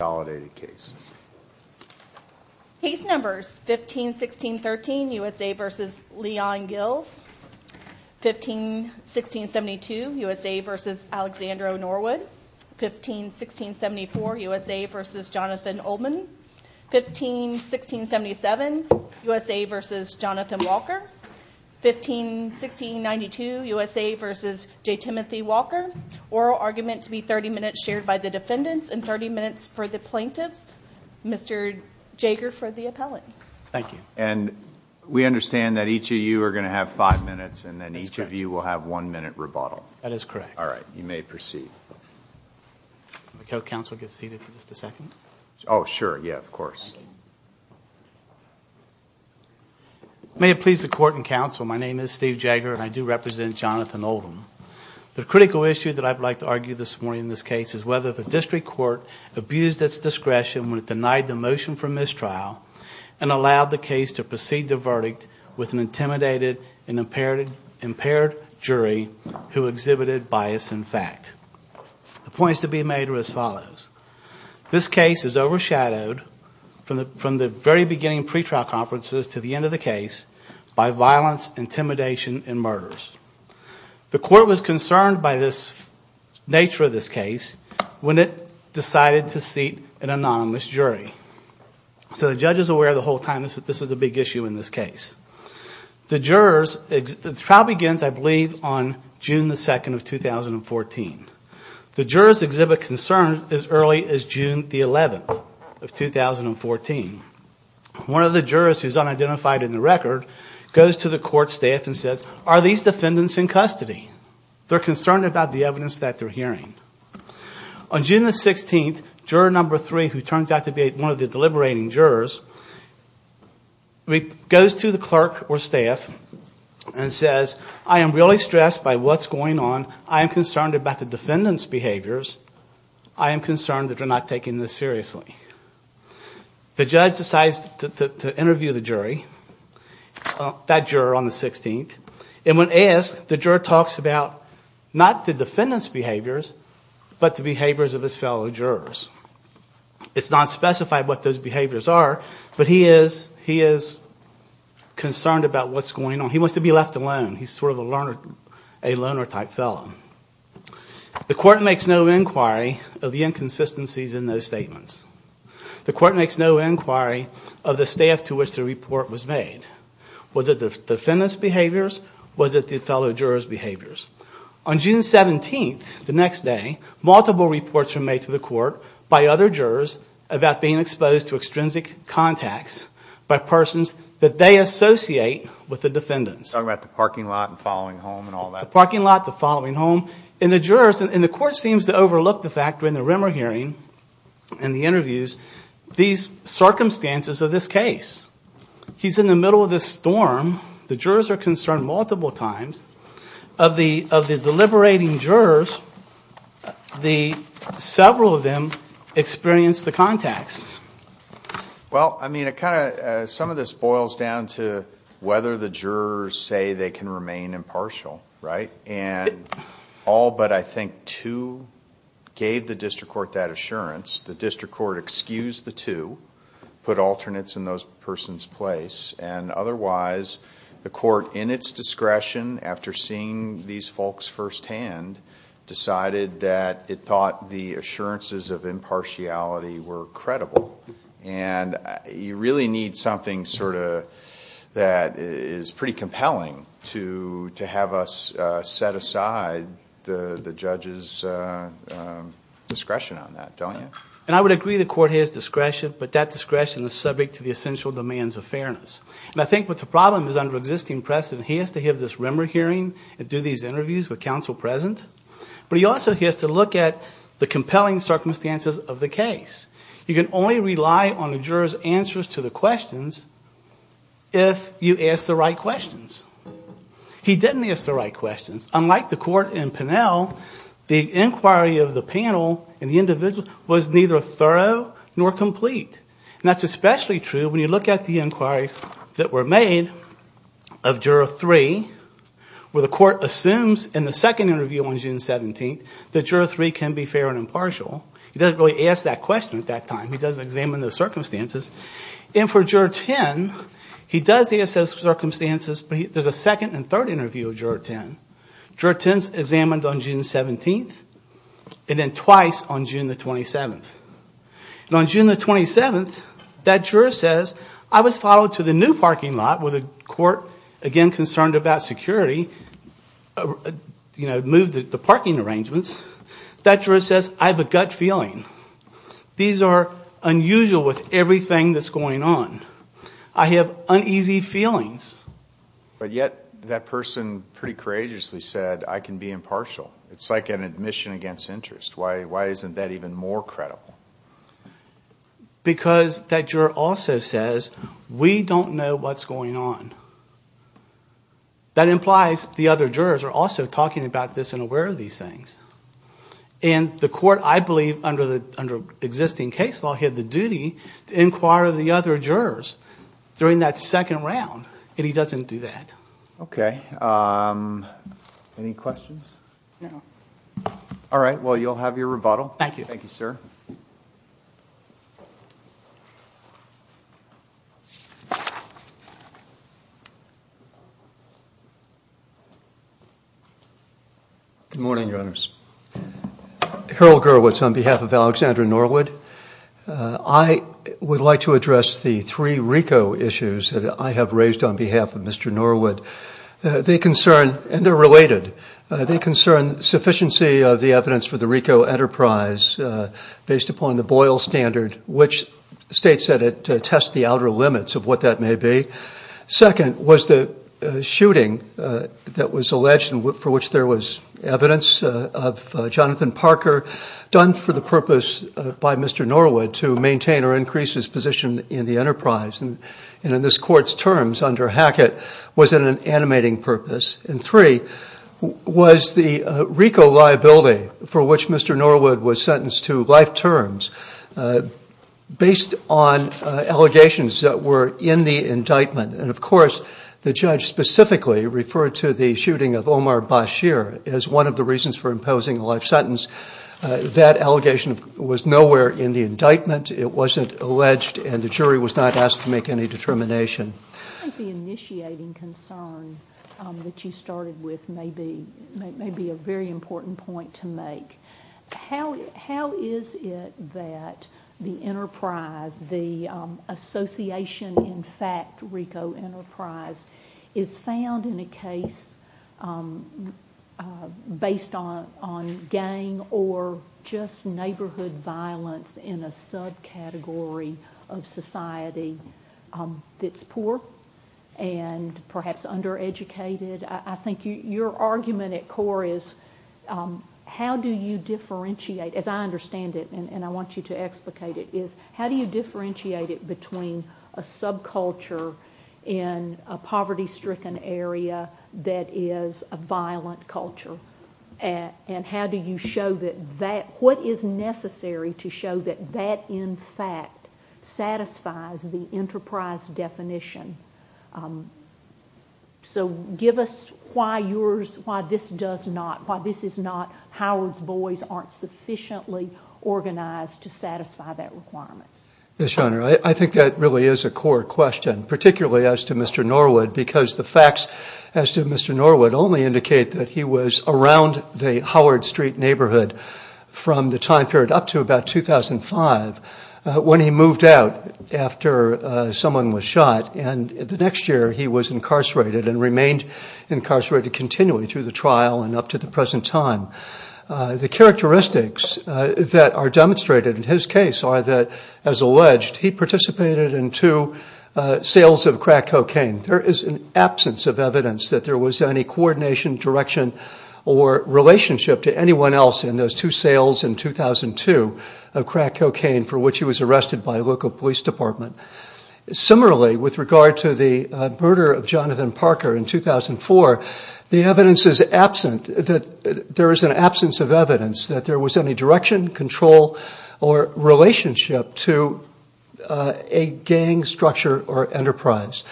151672, USA v. Alexander O. Norwood 151674, USA v. Jonathan Oldman 151677, USA v. Jonathan Walker 151692, USA v. J. Timothy Walker Oral argument to be 30 minutes, shared by the defendants, and 30 minutes per defendant. Mr. Jager for the appellate. Thank you. And we understand that each of you are going to have five minutes, and then each of you will have one minute rebuttal. That is correct. All right. You may proceed. Could the counsel get seated for just a second? Oh, sure. Yeah, of course. May it please the court and counsel, my name is Steve Jager, and I do represent Jonathan Oldman. The critical issue that I would like to argue this morning in this case is whether the district court abused its discretion when it denied the motion for mistrial, and allowed the case to proceed the verdict with an intimidated and impaired jury who exhibited bias in fact. The points to be made are as follows. This case is overshadowed from the very beginning pretrial conferences to the end of the case by violence, intimidation, and murders. The court was concerned by the nature of this case when it decided to seat an anonymous jury. So the judge is aware the whole time that this is a big issue in this case. The trial begins, I believe, on June 2, 2014. The jurors exhibit concern as early as June 11, 2014. One of the jurors who is unidentified in the record goes to the court staff and says, are these defendants in custody? They're concerned about the evidence that they're hearing. On June 16, juror number three, who turns out to be one of the deliberating jurors, goes to the clerk or staff and says, I am really stressed by what's going on. I am concerned about the defendants' behaviors. I am concerned that they're not taking this seriously. The judge decides to interview the jury, that juror on the 16th, and when asked, the juror talks about not the defendants' behaviors, but the behaviors of his fellow jurors. It's not specified what those behaviors are, but he is concerned about what's going on. He wants to be left alone. He's sort of a loner-type fellow. The court makes no inquiry of the inconsistencies in those statements. The court makes no inquiry of the staff to which the report was made. Was it the defendants' behaviors? Was it the fellow jurors' behaviors? On June 17, the next day, multiple reports were made to the court by other jurors about being exposed to extrinsic contacts by persons that they associate with the defendants. Talking about the parking lot and the following home and all that. The parking lot, the following home, and the jurors, and the court seems to overlook the fact during the Rimmer hearing and the interviews, these circumstances of this case. He's in the middle of this storm. The jurors are concerned multiple times. Of the deliberating jurors, several of them experienced the contacts. Some of this boils down to whether the jurors say they can remain impartial. All but, I think, two gave the district court that assurance. The district court excused the two, put alternates in those persons' place, and otherwise, the court, in its discretion, after seeing these folks firsthand, decided that it thought the assurances of impartiality were credible. You really need something that is pretty compelling to have us set aside the judge's discretion on that, don't you? I would agree the court has discretion, but that discretion is subject to the essential demands of fairness. I think what the problem is, under the existing precedent, he has to have this Rimmer hearing and do these interviews with counsel present, but he also has to look at the compelling circumstances of the case. You can only rely on the jurors' answers to the questions if you ask the right questions. He didn't ask the right questions. Unlike the court in Pinell, the inquiry of the panel and the individual was neither thorough nor complete, and that's especially true When you look at the inquiries that were made of Juror 3, where the court assumes in the second interview on June 17th that Juror 3 can be fair and impartial, he doesn't really ask that question at that time. He doesn't examine the circumstances. For Juror 10, he does ask those circumstances, but there's a second and third interview of Juror 10. Juror 10 is examined on June 17th and then twice on June 27th. On June 27th, that juror says, I was followed to the new parking lot where the court, again concerned about security, moved the parking arrangements. That juror says, I have a gut feeling. These are unusual with everything that's going on. I have uneasy feelings. Yet that person pretty courageously said, I can be impartial. It's like an admission against interest. Why isn't that even more credible? Because that juror also says, we don't know what's going on. That implies the other jurors are also talking about this and aware of these things. The court, I believe, under existing case law, had the duty to inquire the other jurors during that second round, and he doesn't do that. Any questions? All right. Well, you'll have your rebuttal. Thank you. Thank you, sir. Good morning, Your Honors. Earl Gerowitz on behalf of Alexander Norwood. I would like to address the three RICO issues that I have raised on behalf of Mr. Norwood. They concern, and they're related, they concern sufficiency of the evidence for the RICO enterprise based upon the Boyle standard, which states that it tests the outer limits of what that may be. Second was the shooting that was alleged for which there was evidence of Jonathan Parker, done for the purpose by Mr. Norwood to maintain or increase his position in the enterprise. And in this court's terms, under Hackett, was it an animating purpose. And three was the RICO liability for which Mr. Norwood was sentenced to life terms, based on allegations that were in the indictment. And, of course, the judge specifically referred to the shooting of Omar Bashir as one of the reasons for imposing a life sentence. That allegation was nowhere in the indictment. It wasn't alleged, and the jury was not asked to make any determination. I think the initiating concern that you started with may be a very important point to make. How is it that the enterprise, the association, in fact, RICO enterprise, is found in a case based on gang or just neighborhood violence in a subcategory of society that's poor and perhaps undereducated? I think your argument at core is how do you differentiate, as I understand it, and I want you to explicate it, is how do you differentiate it between a subculture in a poverty-stricken area that is a violent culture and what is necessary to show that that, in fact, satisfies the enterprise definition? So give us why this is not Howard's boys aren't sufficiently organized to satisfy that requirement. Yes, Your Honor, I think that really is a core question, particularly as to Mr. Norwood, because the facts as to Mr. Norwood only indicate that he was around the Howard Street neighborhood from the time period up to about 2005 when he moved out after someone was shot and the next year he was incarcerated and remained incarcerated continually through the trial and up to the present time. The characteristics that are demonstrated in his case are that, as alleged, he participated in two sales of crack cocaine. There is an absence of evidence that there was any coordination, direction, or relationship to anyone else in those two sales in 2002 of crack cocaine for which he was arrested by a local police department. Similarly, with regard to the murder of Jonathan Parker in 2004, the evidence is absent that there is an absence of evidence that there was any direction, control, or relationship to a gang structure or enterprise.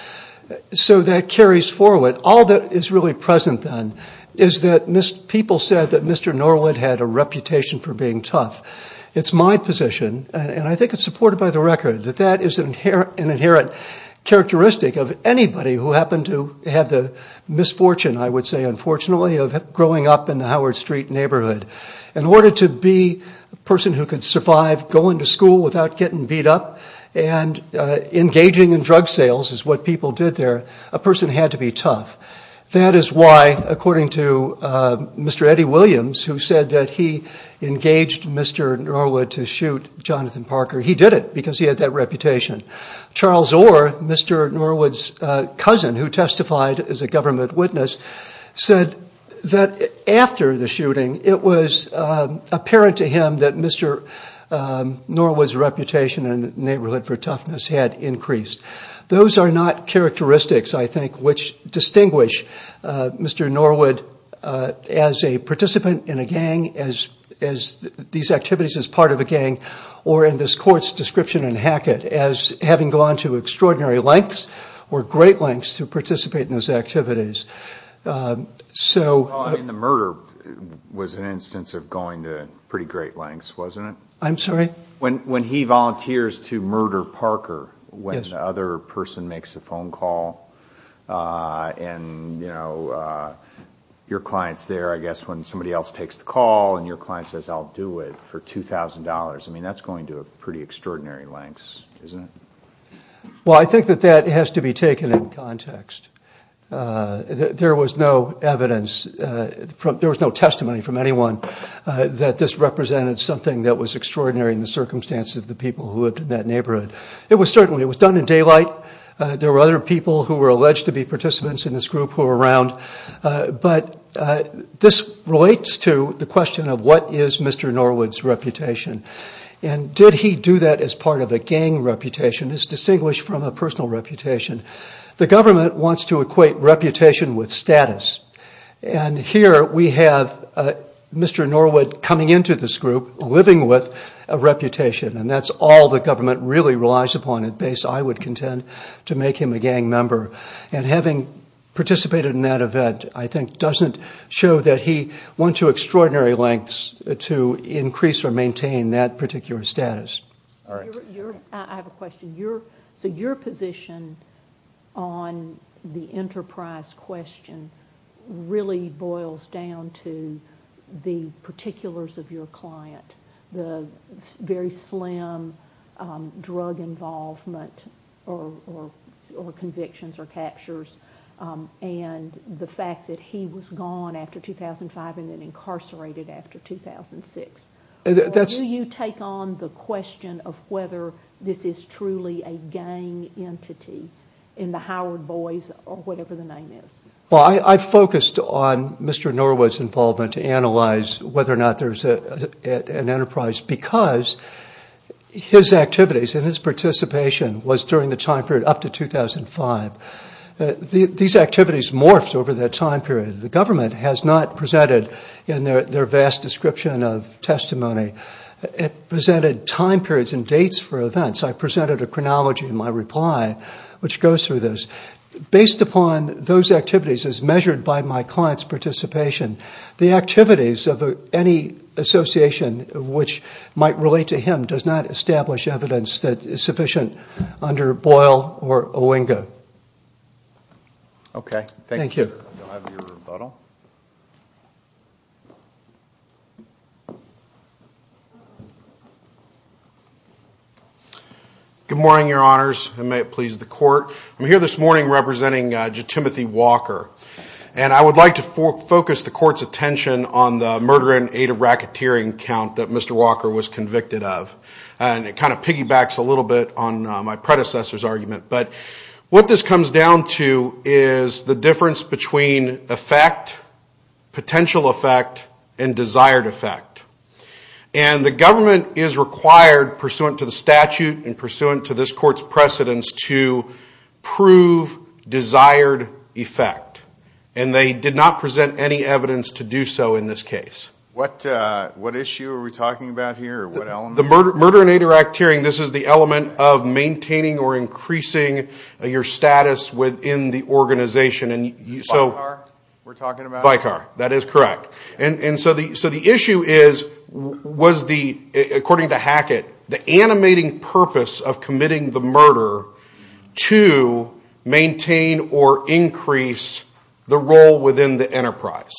So that carries forward. All that is really present then is that people said that Mr. Norwood had a reputation for being tough. It's my position, and I think it's supported by the record, that that is an inherent characteristic of anybody who happened to have the misfortune, I would say unfortunately, of growing up in the Howard Street neighborhood. In order to be a person who could survive going to school without getting beat up and engaging in drug sales, as what people did there, a person had to be tough. That is why, according to Mr. Eddie Williams, who said that he engaged Mr. Norwood to shoot Jonathan Parker, he did it because he had that reputation. Charles Orr, Mr. Norwood's cousin who testified as a government witness, said that after the shooting it was apparent to him that Mr. Norwood's reputation in the neighborhood for toughness had increased. Those are not characteristics, I think, which distinguish Mr. Norwood as a participant in a gang, as these activities as part of a gang, or in this court's description in Hackett as having gone to extraordinary lengths or great lengths to participate in these activities. The murder was an instance of going to pretty great lengths, wasn't it? I'm sorry? When he volunteers to murder Parker when the other person makes a phone call and your client's there, I guess, when somebody else takes the call and your client says, I'll do it for $2,000, that's going to pretty extraordinary lengths, isn't it? Well, I think that that has to be taken in context. There was no evidence, there was no testimony from anyone that this represented something that was extraordinary in the circumstances of the people who lived in that neighborhood. It was certainly done in daylight. There were other people who were alleged to be participants in this group who were around. But this relates to the question of what is Mr. Norwood's reputation? And did he do that as part of a gang reputation? It's distinguished from a personal reputation. The government wants to equate reputation with status. And here we have Mr. Norwood coming into this group living with a reputation and that's all the government really relies upon, at least I would contend, to make him a gang member. And having participated in that event, I think, doesn't show that he went to extraordinary lengths to increase or maintain that particular status. I have a question. Your position on the enterprise question really boils down to the particulars of your client, the very slim drug involvement or convictions or captures, and the fact that he was gone after 2005 and then incarcerated after 2006. Do you take on the question of whether this is truly a gang entity in the Howard Boys or whatever the name is? I focused on Mr. Norwood's involvement to analyze whether or not there's an enterprise because his activities and his participation was during the time period up to 2005. These activities morphed over that time period. The government has not presented in their vast description of testimony. It presented time periods and dates for events. I presented a chronology in my reply which goes through this. Based upon those activities as measured by my client's participation, the activities of any association which might relate to him does not establish evidence that is sufficient under Boyle or Olinga. Okay. Thank you. Good morning, Your Honors, and may it please the Court. I'm here this morning representing Jim Timothy Walker. I would like to focus the Court's attention on the murder and aid of racketeering account that Mr. Walker was convicted of. It kind of piggybacks a little bit on my predecessor's argument. But what this comes down to is the difference between effect, potential effect, and desired effect. The government is required, pursuant to the statute and pursuant to this Court's precedence, to prove desired effect, and they did not present any evidence to do so in this case. What issue are we talking about here? Murder and aid of racketeering, this is the element of maintaining or increasing your status within the organization. Bi-car, we're talking about? Bi-car, that is correct. So the issue is, according to Hackett, the animating purpose of committing the murder to maintain or increase the role within the enterprise.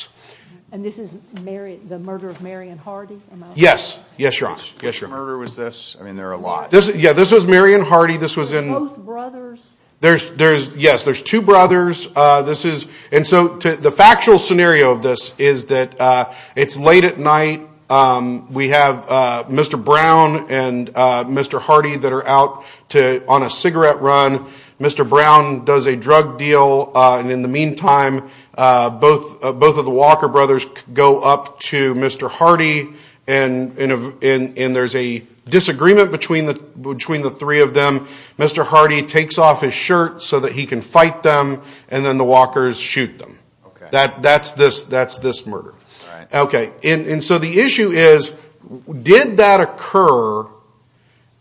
And this is the murder of Marion Hardy? Yes. Yes, Your Honor. The murder was this? I mean, there are a lot. Yeah, this was Marion Hardy. Both brothers? Yes, there's two brothers. And so the factual scenario of this is that it's late at night. We have Mr. Brown and Mr. Hardy that are out on a cigarette run. Mr. Brown does a drug deal. And in the meantime, both of the Walker brothers go up to Mr. Hardy, and there's a disagreement between the three of them. Mr. Hardy takes off his shirt so that he can fight them, and then the Walkers shoot them. That's this murder. And so the issue is, did that occur,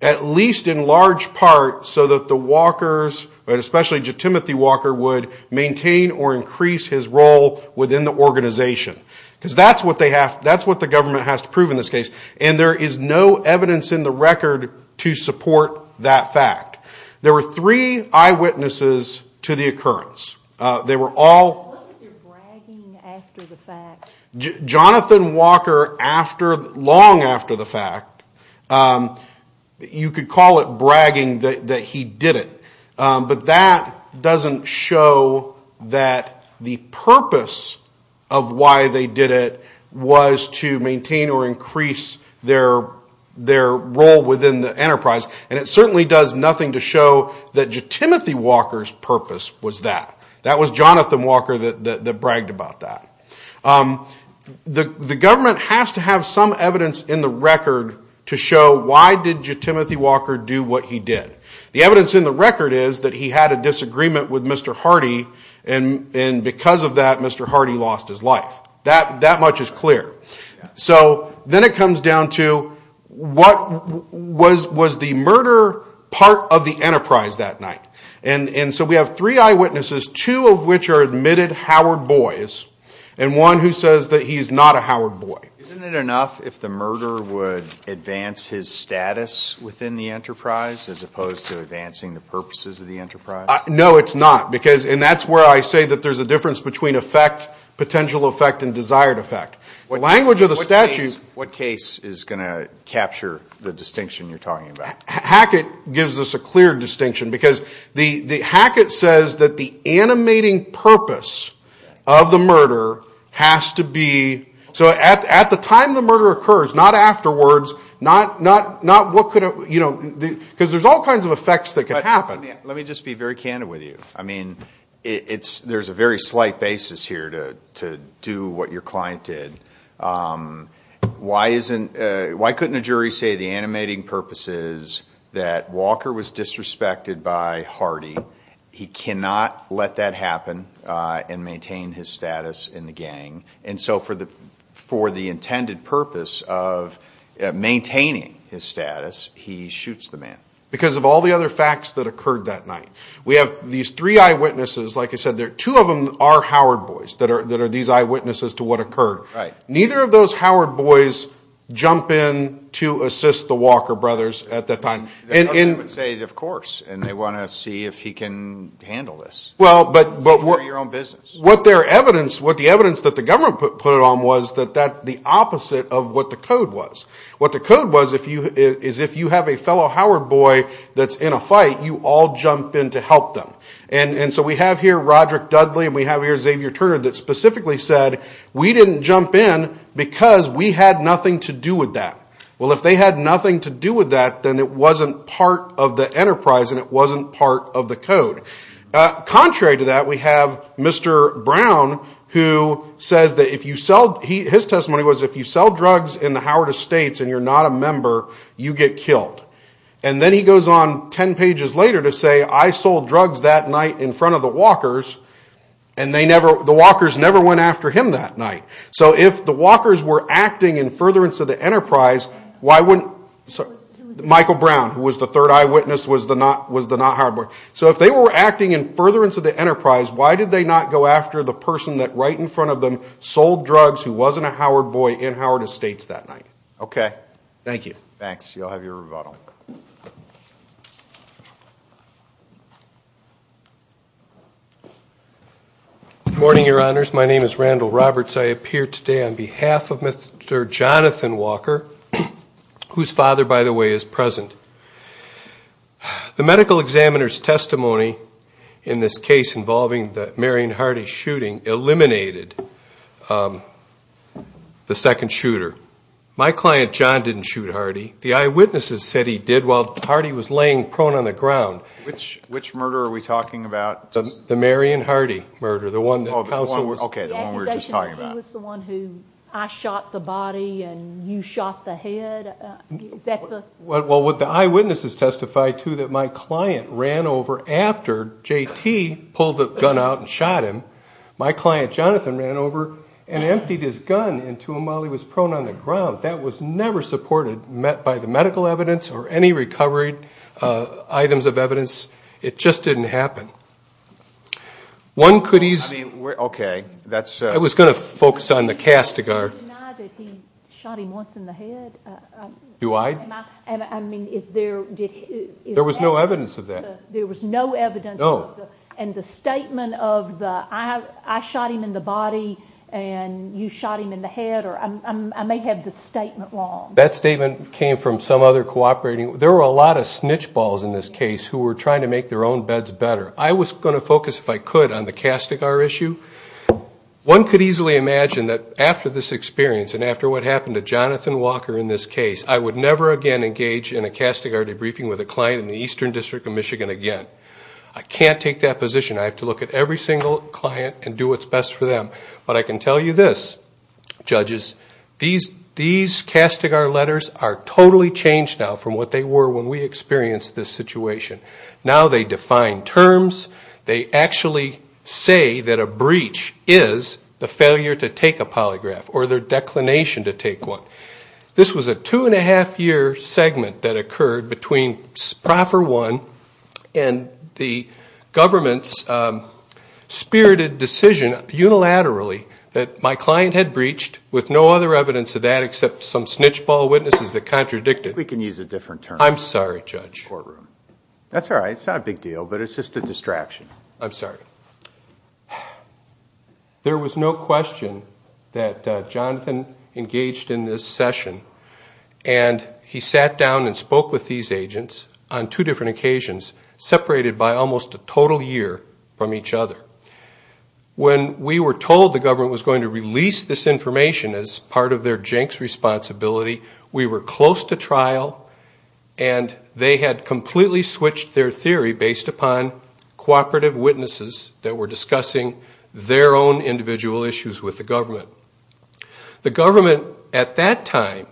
at least in large part, so that the Walkers, especially Timothy Walker, would maintain or increase his role within the organization? Because that's what the government has to prove in this case, and there is no evidence in the record to support that fact. There were three eyewitnesses to the occurrence. They were all – What was your bragging after the fact? But that doesn't show that the purpose of why they did it was to maintain or increase their role within the enterprise, and it certainly does nothing to show that Timothy Walker's purpose was that. That was Jonathan Walker that bragged about that. The government has to have some evidence in the record to show, why did Timothy Walker do what he did? The evidence in the record is that he had a disagreement with Mr. Hardy, and because of that, Mr. Hardy lost his life. That much is clear. So then it comes down to, what was the murder part of the enterprise that night? And so we have three eyewitnesses, two of which are admitted Howard boys, and one who says that he's not a Howard boy. Isn't it enough if the murderer would advance his status within the enterprise as opposed to advancing the purposes of the enterprise? No, it's not, and that's where I say that there's a difference between effect, potential effect, and desired effect. What case is going to capture the distinction you're talking about? Hackett gives us a clear distinction because Hackett says that the animating purpose of the murder has to be, so at the time the murder occurs, not afterwards, because there's all kinds of effects that can happen. Let me just be very candid with you. There's a very slight basis here to do what your client did. Why couldn't a jury say the animating purpose is that Walker was disrespected by Hardy? He cannot let that happen and maintain his status in the gang, and so for the intended purpose of maintaining his status, he shoots the man. Because of all the other facts that occurred that night. We have these three eyewitnesses. Like I said, two of them are Howard boys that are these eyewitnesses to what occurred. Neither of those Howard boys jump in to assist the Walker brothers at that time. Others would say, of course, and they want to see if he can handle this. It's your own business. What the evidence that the government put on was that that's the opposite of what the code was. What the code was is if you have a fellow Howard boy that's in a fight, you all jump in to help them. So we have here Roderick Dudley and we have here Xavier Turner that specifically said, we didn't jump in because we had nothing to do with that. Well, if they had nothing to do with that, then it wasn't part of the enterprise and it wasn't part of the code. Contrary to that, we have Mr. Brown who said that if you sell, his testimony was if you sell drugs in the Howard Estates and you're not a member, you get killed. And then he goes on 10 pages later to say, I sold drugs that night in front of the Walkers and the Walkers never went after him that night. So if the Walkers were acting in furtherance of the enterprise, Michael Brown who was the third eyewitness was the not Howard boy. So if they were acting in furtherance of the enterprise, why did they not go after the person that right in front of them sold drugs who wasn't a Howard boy in Howard Estates that night? Okay, thank you. Thanks. You all have your rebuttal. Good morning, Your Honors. My name is Randall Roberts. I appear today on behalf of Mr. Jonathan Walker, whose father, by the way, is present. The medical examiner's testimony in this case involving the Marion Hardy shooting eliminated the second shooter. My client, John, didn't shoot Hardy. The eyewitnesses said he did. Well, Hardy was laying prone on the ground. Which murder are we talking about? The Marion Hardy murder, the one that counsel was talking about. Okay, the one we were just talking about. He was the one who I shot the body and you shot the head? Well, what the eyewitnesses testified to that my client ran over after J.T. pulled the gun out and shot him. My client, Jonathan, ran over and emptied his gun into him while he was prone on the ground. That was never supported by the medical evidence or any recovery items of evidence. It just didn't happen. One could easily – Okay, that's – I was going to focus on the castigar. Do you deny that he shot him once in the head? Do I? I mean, is there – There was no evidence of that. There was no evidence. No. And the statement of the I shot him in the body and you shot him in the head, I may have the statement wrong. That statement came from some other cooperating – there were a lot of snitch balls in this case who were trying to make their own beds better. I was going to focus, if I could, on the castigar issue. One could easily imagine that after this experience and after what happened to Jonathan Walker in this case, I would never again engage in a castigar debriefing with a client in the Eastern District of Michigan again. I can't take that position. I have to look at every single client and do what's best for them. But I can tell you this, judges, these castigar letters are totally changed now from what they were when we experienced this situation. Now they define terms. They actually say that a breach is the failure to take a polygraph or their declination to take one. This was a two-and-a-half-year segment that occurred between Proffer One and the government's spirited decision unilaterally that my client had breached with no other evidence of that except some snitch ball witnesses that contradicted. We can use a different term. I'm sorry, Judge. That's all right. It's not a big deal, but it's just a distraction. I'm sorry. There was no question that Jonathan engaged in this session, and he sat down and spoke with these agents on two different occasions, separated by almost a total year from each other. When we were told the government was going to release this information as part of their Jenks responsibility, we were close to trial, and they had completely switched their theory based upon cooperative witnesses that were discussing their own individual issues with the government. The government, at that time,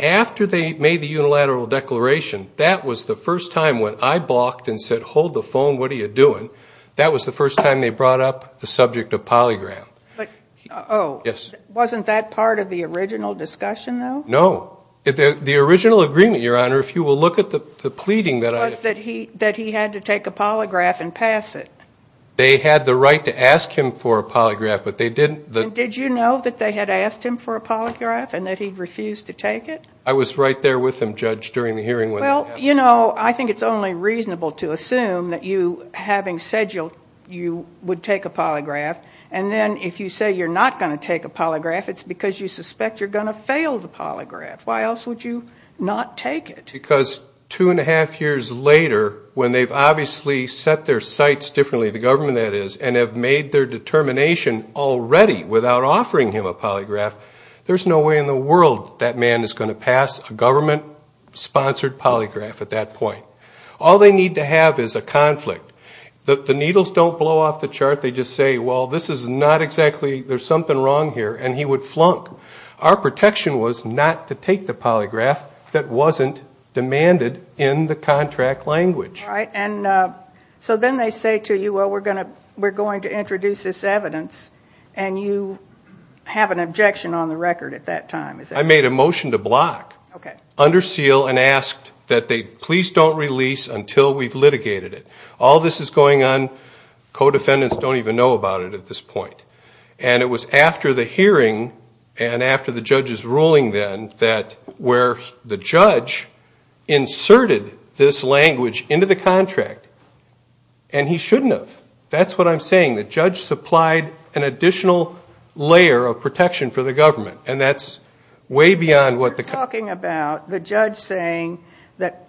after they made the unilateral declaration, that was the first time when I balked and said, hold the phone. What are you doing? That was the first time they brought up the subject of polygraph. Oh. Yes. Wasn't that part of the original discussion, though? No. The original agreement, Your Honor, if you will look at the pleading that I – That he had to take a polygraph and pass it. They had the right to ask him for a polygraph, but they didn't – And did you know that they had asked him for a polygraph and that he refused to take it? I was right there with him, Judge, during the hearing when that happened. Well, you know, I think it's only reasonable to assume that you, having said you would take a polygraph, and then if you say you're not going to take a polygraph, it's because you suspect you're going to fail the polygraph. Why else would you not take it? Because two and a half years later, when they've obviously set their sights differently, the government, that is, and have made their determination already without offering him a polygraph, there's no way in the world that man is going to pass a government-sponsored polygraph at that point. All they need to have is a conflict. The needles don't blow off the chart. They just say, well, this is not exactly – there's something wrong here, and he would flunk. Our protection was not to take the polygraph that wasn't demanded in the contract language. And so then they say to you, well, we're going to introduce this evidence, and you have an objection on the record at that time. I made a motion to block, under seal, and asked that they please don't release until we've litigated it. All this is going on, co-defendants don't even know about it at this point. And it was after the hearing and after the judge's ruling then that where the judge inserted this language into the contract, and he shouldn't have. That's what I'm saying. The judge supplied an additional layer of protection for the government, and that's way beyond what the – You're talking about the judge saying that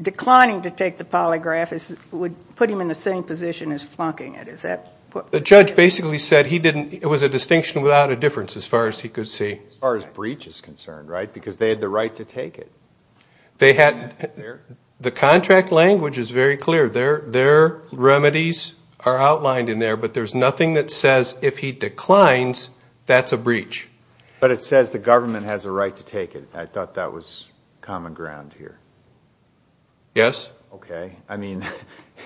declining to take the polygraph would put him in the same position as flunking it. The judge basically said he didn't – it was a distinction without a difference as far as he could see. As far as breach is concerned, right, because they had the right to take it. The contract language is very clear. Their remedies are outlined in there, but there's nothing that says if he declines, that's a breach. But it says the government has a right to take it. I thought that was common ground here. Yes. Okay. I mean,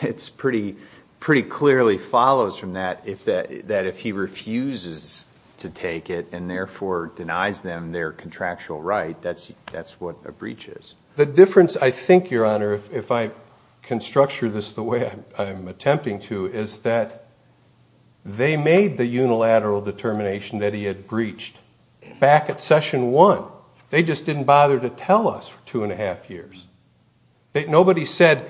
it pretty clearly follows from that that if he refuses to take it and therefore denies them their contractual right, that's what a breach is. The difference, I think, Your Honor, if I can structure this the way I'm attempting to, is that they made the unilateral determination that he had breached back at session one. They just didn't bother to tell us for two and a half years. Nobody said,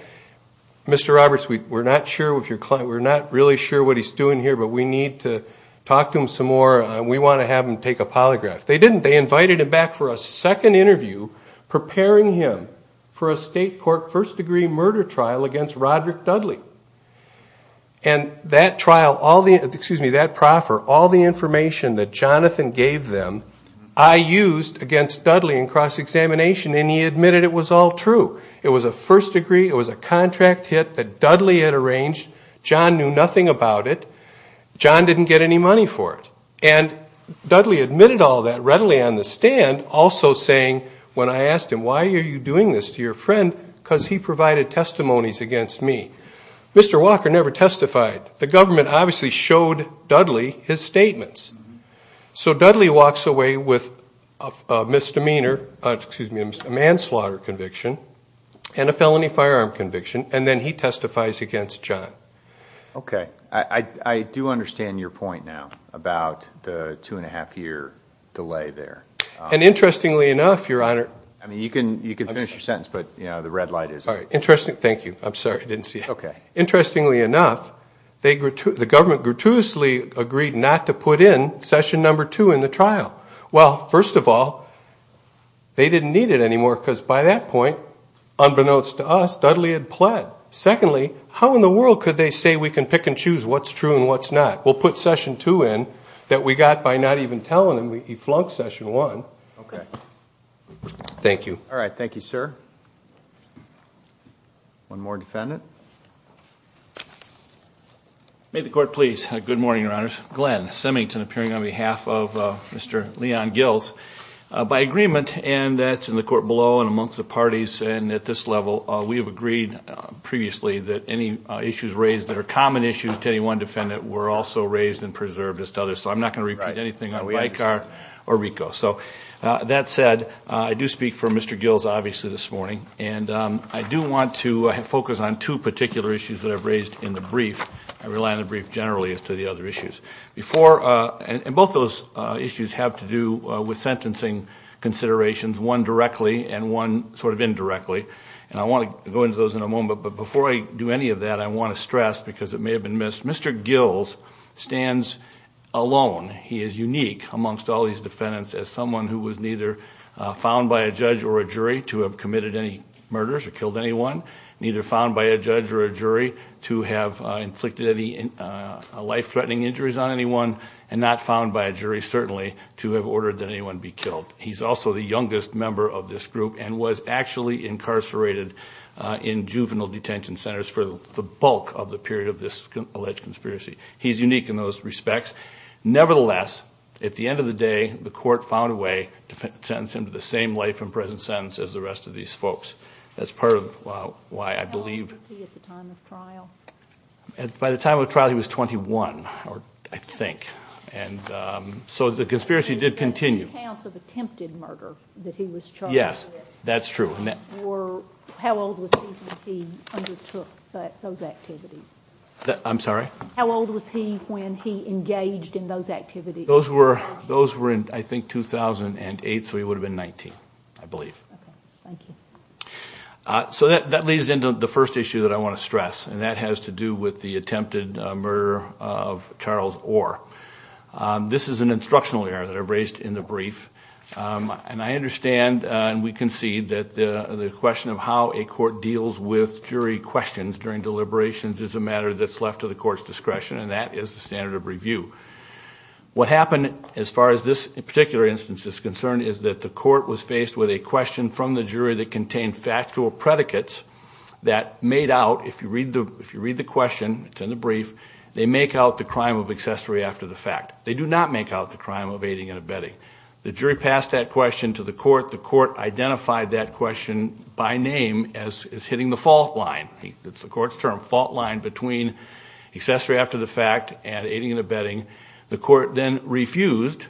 Mr. Roberts, we're not really sure what he's doing here, but we need to talk to him some more. We want to have him take a polygraph. They didn't. They invited him back for a second interview preparing him for a state court first-degree murder trial against Roger Dudley. And that trial, all the – excuse me, that proffer, all the information that Jonathan gave them, I used against Dudley in cross-examination, and he admitted it was all true. It was a first-degree. It was a contract hit that Dudley had arranged. John knew nothing about it. John didn't get any money for it. And Dudley admitted all that readily on the stand, also saying when I asked him, why are you doing this to your friend? Because he provided testimonies against me. Mr. Walker never testified. The government obviously showed Dudley his statements. So Dudley walks away with a misdemeanor – excuse me, a manslaughter conviction and a felony firearm conviction, and then he testifies against John. Okay. I do understand your point now about the two-and-a-half-year delay there. And interestingly enough, Your Honor – I mean, you can finish your sentence, but, you know, the red light is on. All right. Interesting – thank you. I'm sorry. I didn't see it. Okay. Interestingly enough, the government gratuitously agreed not to put in session number two in the trial. Well, first of all, they didn't need it anymore because by that point, unbeknownst to us, Dudley had pled. Secondly, how in the world could they say we can pick and choose what's true and what's not? We'll put session two in that we got by not even telling them he flunked session one. Okay. Thank you. All right. Thank you, sir. One more defendant. May the court please. Good morning, Your Honors. Glenn Simington, appearing on behalf of Mr. Leon Gills. By agreement, and that's in the court below and amongst the parties and at this level, we have agreed previously that any issues raised that are common issues to any one defendant were also raised and preserved as to others. So I'm not going to repeat anything like RICO. So that said, I do speak for Mr. Gills obviously this morning, and I do want to focus on two particular issues that I've raised in the brief. I rely on the brief generally as to the other issues. Both those issues have to do with sentencing considerations, one directly and one sort of indirectly, and I want to go into those in a moment. But before I do any of that, I want to stress, because it may have been missed, Mr. Gills stands alone. He is unique amongst all these defendants as someone who was neither found by a judge or a jury to have committed any murders or killed anyone, neither found by a judge or a jury to have inflicted any life-threatening injuries on anyone, and not found by a jury certainly to have ordered that anyone be killed. He's also the youngest member of this group and was actually incarcerated in juvenile detention centers for the bulk of the period of this alleged conspiracy. He's unique in those respects. Nevertheless, at the end of the day, the court found a way to sentence him to the same life in prison sentence as the rest of these folks. That's part of why I believe he was 21, I think. So the conspiracy did continue. Two counts of attempted murder that he was charged with. Yes, that's true. How old was he when he undertook those activities? I'm sorry? How old was he when he engaged in those activities? Those were in, I think, 2008, so he would have been 19, I believe. Thank you. So that leads into the first issue that I want to stress, and that has to do with the attempted murder of Charles Orr. This is an instructional error that I've raised in the brief, and I understand and we concede that the question of how a court deals with jury questions during deliberations is a matter that's left to the court's discretion, and that is the standard of review. What happened as far as this particular instance is concerned is that the court was faced with a question from the jury that contained factual predicates that made out, if you read the question, it's in the brief, they make out the crime of accessory after the fact. They do not make out the crime of aiding and abetting. The jury passed that question to the court. The court identified that question by name as hitting the fault line. It's the court's term, fault line between accessory after the fact and aiding and abetting. The court then refused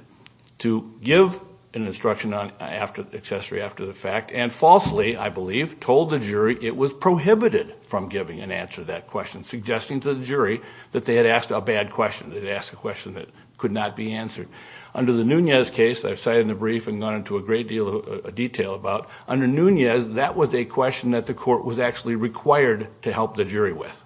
to give an instruction on accessory after the fact and falsely, I believe, told the jury it was prohibited from giving an answer to that question, suggesting to the jury that they had asked a bad question, they'd asked a question that could not be answered. Under the Nunez case, I've cited in the brief and gone into a great deal of detail about, under Nunez, that was a question that the court was actually required to help the jury with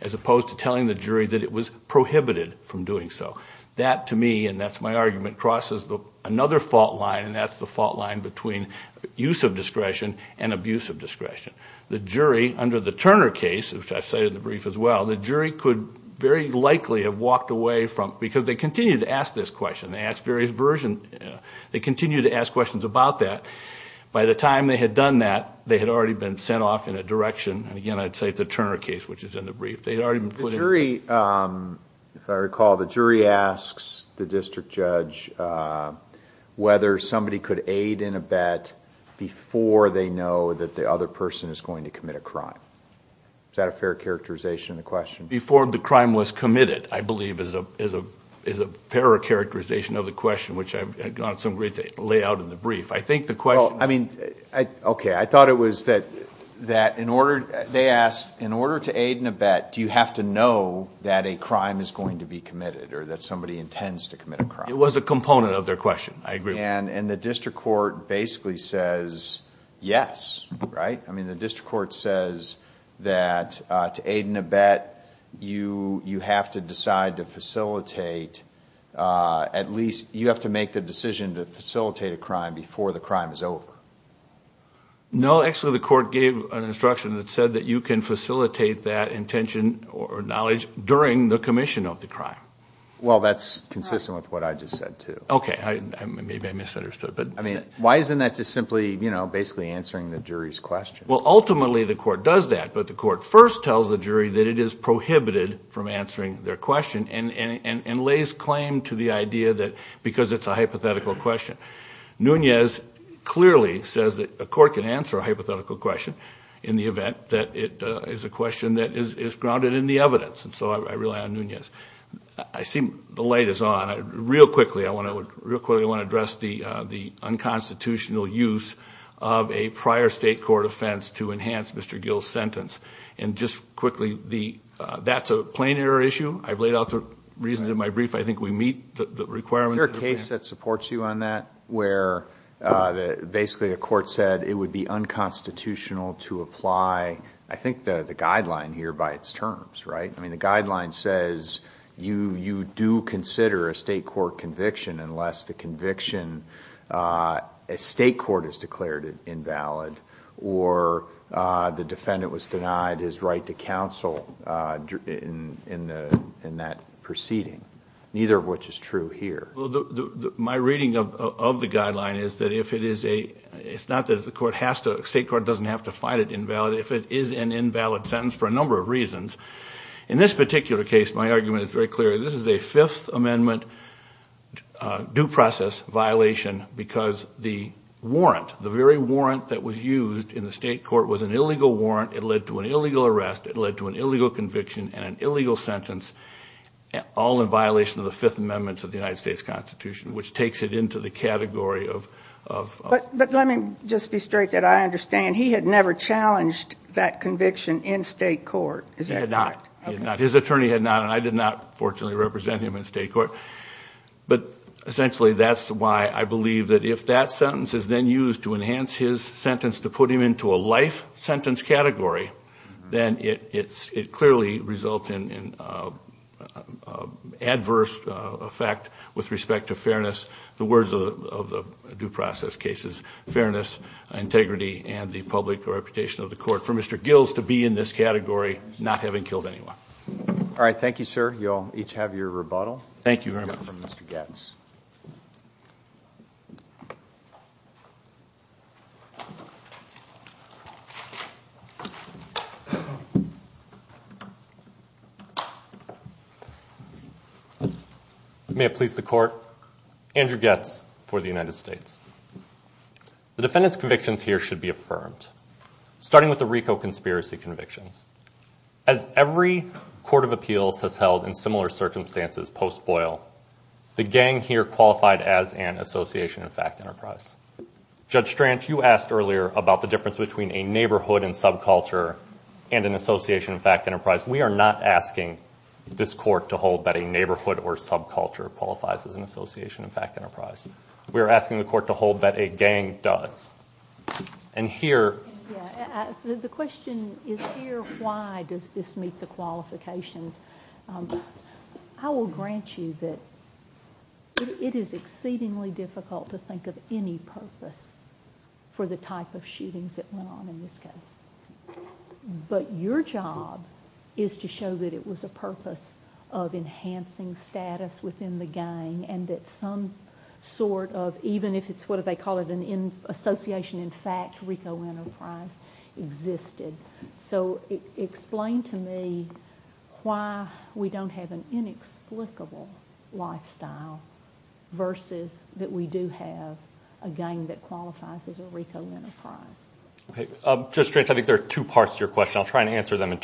as opposed to telling the jury that it was prohibited from doing so. That, to me, and that's my argument, crosses another fault line, and that's the fault line between use of discretion and abuse of discretion. The jury, under the Turner case, which I cited in the brief as well, the jury could very likely have walked away from, because they continued to ask this question. They asked various versions. They continued to ask questions about that. By the time they had done that, they had already been sent off in a direction, and again, I'd say the Turner case, which is in the brief. They had already been put in. The jury, if I recall, the jury asks the district judge whether somebody could aid and abet before they know that the other person is going to commit a crime. Is that a fair characterization of the question? Before the crime was committed, I believe, is a fair characterization of the question, which I've gone through and laid out in the brief. I think the question – Well, I mean, okay, I thought it was that in order, they asked, in order to aid and abet, do you have to know that a crime is going to be committed or that somebody intends to commit a crime? It was a component of their question. I agree. And the district court basically says yes, right? I mean, the district court says that to aid and abet, you have to decide to facilitate at least – you have to make the decision to facilitate a crime before the crime is over. No, actually, the court gave an instruction that said that you can facilitate that intention or knowledge during the commission of the crime. Well, that's consistent with what I just said, too. Okay, maybe I misunderstood. I mean, why isn't that just simply, you know, basically answering the jury's question? Well, ultimately, the court does that, but the court first tells the jury that it is prohibited from answering their question and lays claim to the idea that because it's a hypothetical question. Nunez clearly says that a court can answer a hypothetical question in the event that it is a question that is grounded in the evidence, and so I rely on Nunez. I see the light is on. Real quickly, I want to address the unconstitutional use of a prior state court offense to enhance Mr. Gill's sentence. And just quickly, that's a plain error issue. I've laid out the reasons in my brief. I think we meet the requirements. Is there a case that supports you on that where basically a court said it would be unconstitutional to apply, I think, the guideline here by its terms, right? I mean, the guideline says you do consider a state court conviction unless the conviction at state court is declared invalid or the defendant was denied his right to counsel in that proceeding, neither of which is true here. My reading of the guideline is that if it is a – it's not that the state court doesn't have to find it invalid. If it is an invalid sentence for a number of reasons. In this particular case, my argument is very clear. This is a Fifth Amendment due process violation because the warrant, the very warrant that was used in the state court was an illegal warrant. It led to an illegal arrest. It led to an illegal conviction and an illegal sentence, all in violation of the Fifth Amendment to the United States Constitution, which takes it into the category of – But let me just be straight that I understand. He had never challenged that conviction in state court, is that correct? He had not. His attorney had not, and I did not, fortunately, represent him in state court. But essentially that's why I believe that if that sentence is then used to enhance his sentence to put him into a life sentence category, the words of the due process case is fairness, integrity, and the public reputation of the court. For Mr. Gills to be in this category, not having killed anyone. All right, thank you, sir. You all each have your rebuttal. Thank you very much. From Mr. Gatz. May it please the court. Andrew Gatz for the United States. The defendant's convictions here should be affirmed, starting with the RICO conspiracy convictions. As every court of appeals has held in similar circumstances post-Boyle, the gang here qualified as an association of fact enterprise. Judge Stranch, you asked earlier about the difference between a neighborhood and subculture and an association of fact enterprise. We are not asking this court to hold that a neighborhood or subculture qualifies as an association of fact enterprise. We are asking the court to hold that a gang does. And here – The question is here, why does this meet the qualifications? I will grant you that it is exceedingly difficult to think of any purpose for the type of shootings that went on in this case. But your job is to show that it was a purpose of enhancing status within the gang and that some sort of, even if it's what they call an association in fact, RICO enterprise existed. So explain to me why we don't have an inexplicable lifestyle versus that we do have a gang that qualifies as a RICO enterprise. Judge Stranch, I think there are two parts to your question. I'll try and answer them in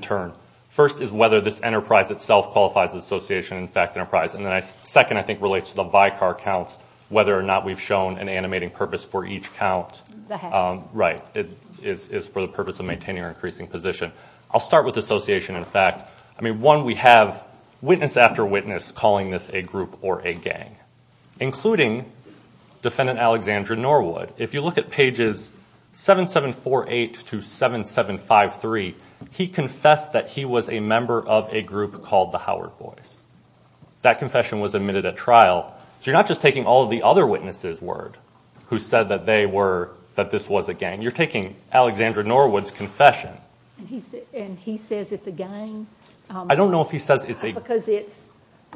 turn. First is whether this enterprise itself qualifies as an association of fact enterprise. And the second, I think, relates to the by-car count, whether or not we've shown an animating purpose for each count. Right, it's for the purpose of maintaining our increasing position. I'll start with association in fact. I mean, one, we have witness after witness calling this a group or a gang, including Defendant Alexandra Norwood. If you look at pages 7748 to 7753, he confessed that he was a member of a group called the Howard Boys. That confession was admitted at trial. So you're not just taking all of the other witnesses' word who said that they were, that this was a gang. You're taking Alexandra Norwood's confession. And he says it's a gang? I don't know if he says it's a gang. Because it's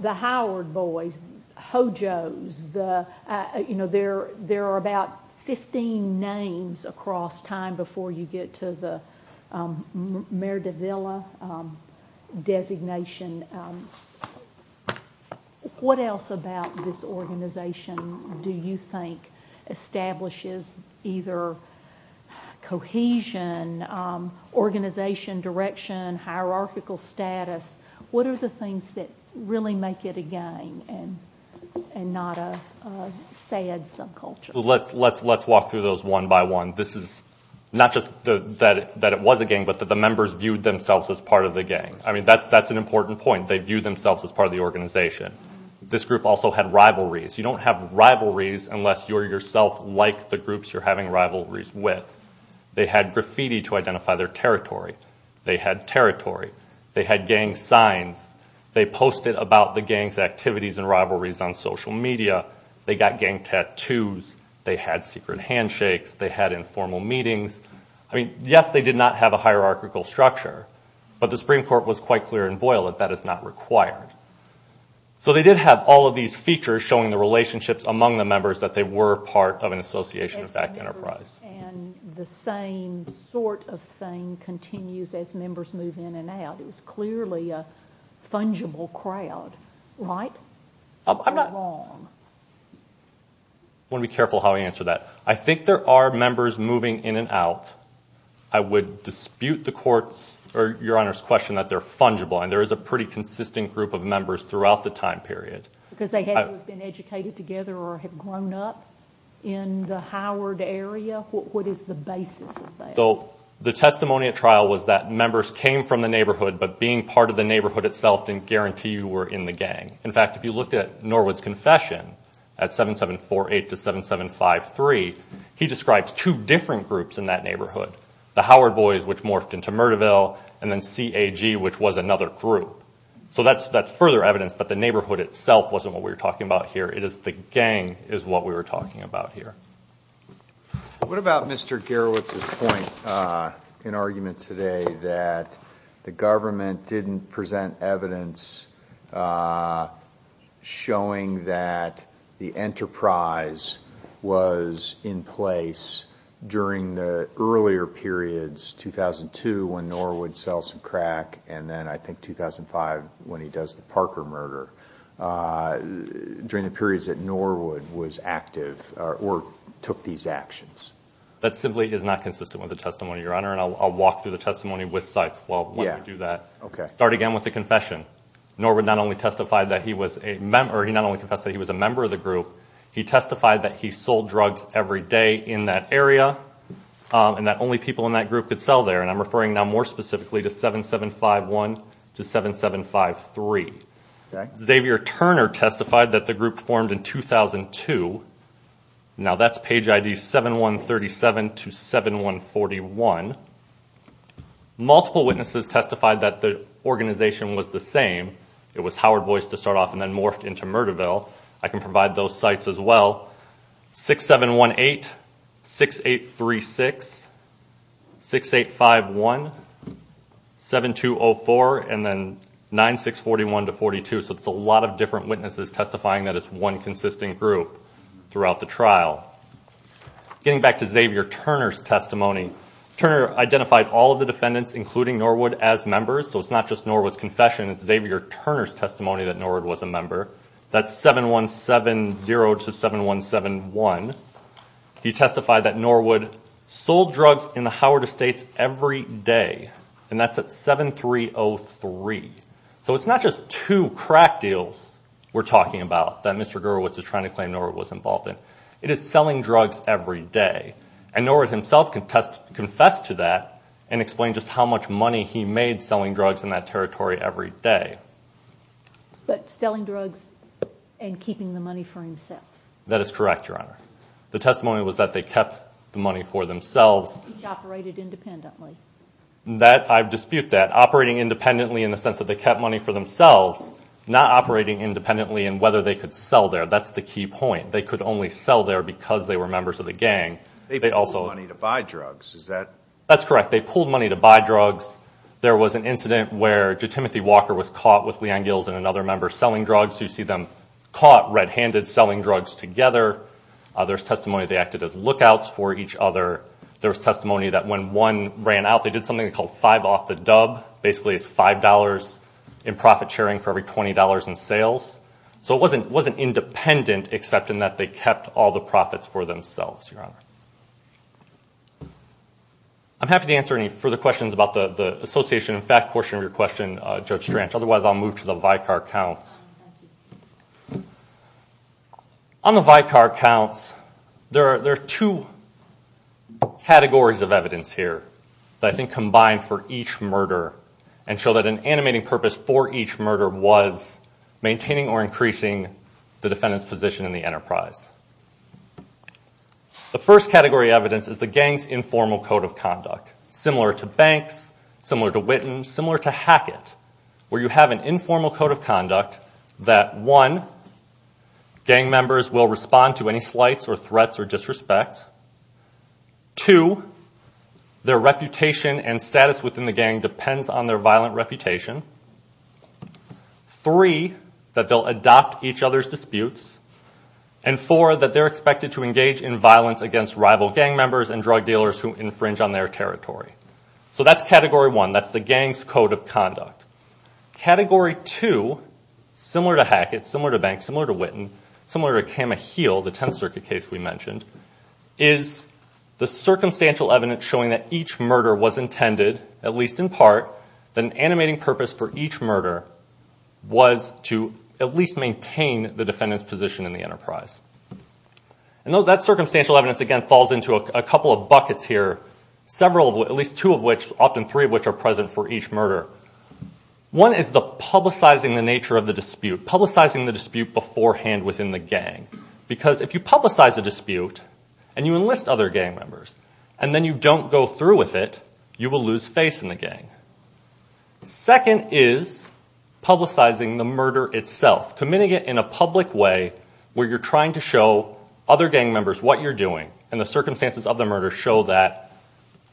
the Howard Boys, Ho-Jo's, there are about 15 names across time before you get to the Mayor De Villa designation. What else about this organization do you think establishes either cohesion, organization, direction, hierarchical status? What are the things that really make it a gang and not a sad subculture? Let's walk through those one by one. This is not just that it was a gang, but that the members viewed themselves as part of the gang. That's an important point. They viewed themselves as part of the organization. This group also had rivalries. You don't have rivalries unless you're yourself like the groups you're having rivalries with. They had graffiti to identify their territory. They had territory. They had gang signs. They posted about the gang's activities and rivalries on social media. They got gang tattoos. They had secret handshakes. They had informal meetings. Yes, they did not have a hierarchical structure, but the Supreme Court was quite clear in Boyle that that is not required. So they did have all of these features showing the relationships among the members that they were part of an association of that enterprise. And the same sort of thing continues as members move in and out. It's clearly a fungible crowd, right? I'm not wrong. I want to be careful how I answer that. I think there are members moving in and out. I would dispute the Court's or Your Honor's question that they're fungible, and there is a pretty consistent group of members throughout the time period. Because they haven't been educated together or have grown up in the Howard area? What is the basis of that? So the testimony at trial was that members came from the neighborhood, but being part of the neighborhood itself didn't guarantee you were in the gang. In fact, if you looked at Norwood's confession at 7748 to 7753, he describes two different groups in that neighborhood. The Howard boys, which morphed into Myrteville, and then CAG, which was another group. So that's further evidence that the neighborhood itself wasn't what we were talking about here. It is the gang is what we were talking about here. What about Mr. Gerowitz's point in argument today that the government didn't present evidence showing that the enterprise was in place during the earlier periods, 2002 when Norwood sells some crack, and then I think 2005 when he does the Parker murder, during the periods that Norwood was active or took these actions? That simply is not consistent with the testimony, Your Honor, and I'll walk through the testimony with Sipes while we do that. Start again with the confession. Norwood not only confessed that he was a member of the group, he testified that he sold drugs every day in that area, and that only people in that group could sell there, and I'm referring now more specifically to 7751 to 7753. Xavier Turner testified that the group formed in 2002. Now that's page ID 7137 to 7141. Multiple witnesses testified that the organization was the same. It was Howard Boyce to start off and then morphed into Murderville. I can provide those sites as well. 6718, 6836, 6851, 7204, and then 9641 to 42. So it's a lot of different witnesses testifying that it's one consistent group throughout the trial. Getting back to Xavier Turner's testimony, Turner identified all of the defendants, including Norwood, as members. So it's not just Norwood's confession. It's Xavier Turner's testimony that Norwood was a member. That's 7170 to 7171. He testified that Norwood sold drugs in the Howard Estates every day, and that's at 7303. So it's not just two crack deals we're talking about that Mr. Gerowitz is trying to claim Norwood was involved in. It is selling drugs every day, and Norwood himself confessed to that and explained just how much money he made selling drugs in that territory every day. But selling drugs and keeping the money for himself. That is correct, Your Honor. The testimony was that they kept the money for themselves. Which operated independently. I dispute that. Operating independently in the sense that they kept money for themselves, not operating independently in whether they could sell there. That's the key point. They could only sell there because they were members of a gang. They pulled money to buy drugs. That's correct. They pulled money to buy drugs. There was an incident where Timothy Walker was caught with Leanne Gills and another member selling drugs. You see them caught red-handed selling drugs together. There's testimony they acted as lookouts for each other. There's testimony that when one ran out, they did something called five off the dub. Basically it's $5 in profit sharing for every $20 in sales. So it wasn't independent except in that they kept all the profits for themselves, Your Honor. I'm happy to answer any further questions about the association and theft portion of your question, Judge Stranch. Otherwise I'll move to the Vicar Counts. On the Vicar Counts, there are two categories of evidence here that I think combine for each murder and show that an animating purpose for each murder was maintaining or increasing the defendant's position in the enterprise. The first category of evidence is the gang's informal code of conduct, similar to Banks, similar to Witten, similar to Hackett, where you have an informal code of conduct that, one, gang members will respond to any slights or threats or disrespects. Two, their reputation and status within the gang depends on their violent reputation. Three, that they'll adopt each other's disputes. And four, that they're expected to engage in violence against rival gang members and drug dealers who infringe on their territory. So that's category one, that's the gang's code of conduct. Category two, similar to Hackett, similar to Banks, similar to Witten, similar to Camahiel, the Tenth Circuit case we mentioned, is the circumstantial evidence showing that each murder was intended, at least in part, that an animating purpose for each murder was to at least maintain the defendant's position in the enterprise. And that circumstantial evidence, again, falls into a couple of buckets here, at least two of which, often three of which, are present for each murder. One is the publicizing the nature of the dispute, publicizing the dispute beforehand within the gang because if you publicize a dispute and you enlist other gang members and then you don't go through with it, you will lose face in the gang. Second is publicizing the murder itself, committing it in a public way where you're trying to show other gang members what you're doing and the circumstances of the murder show that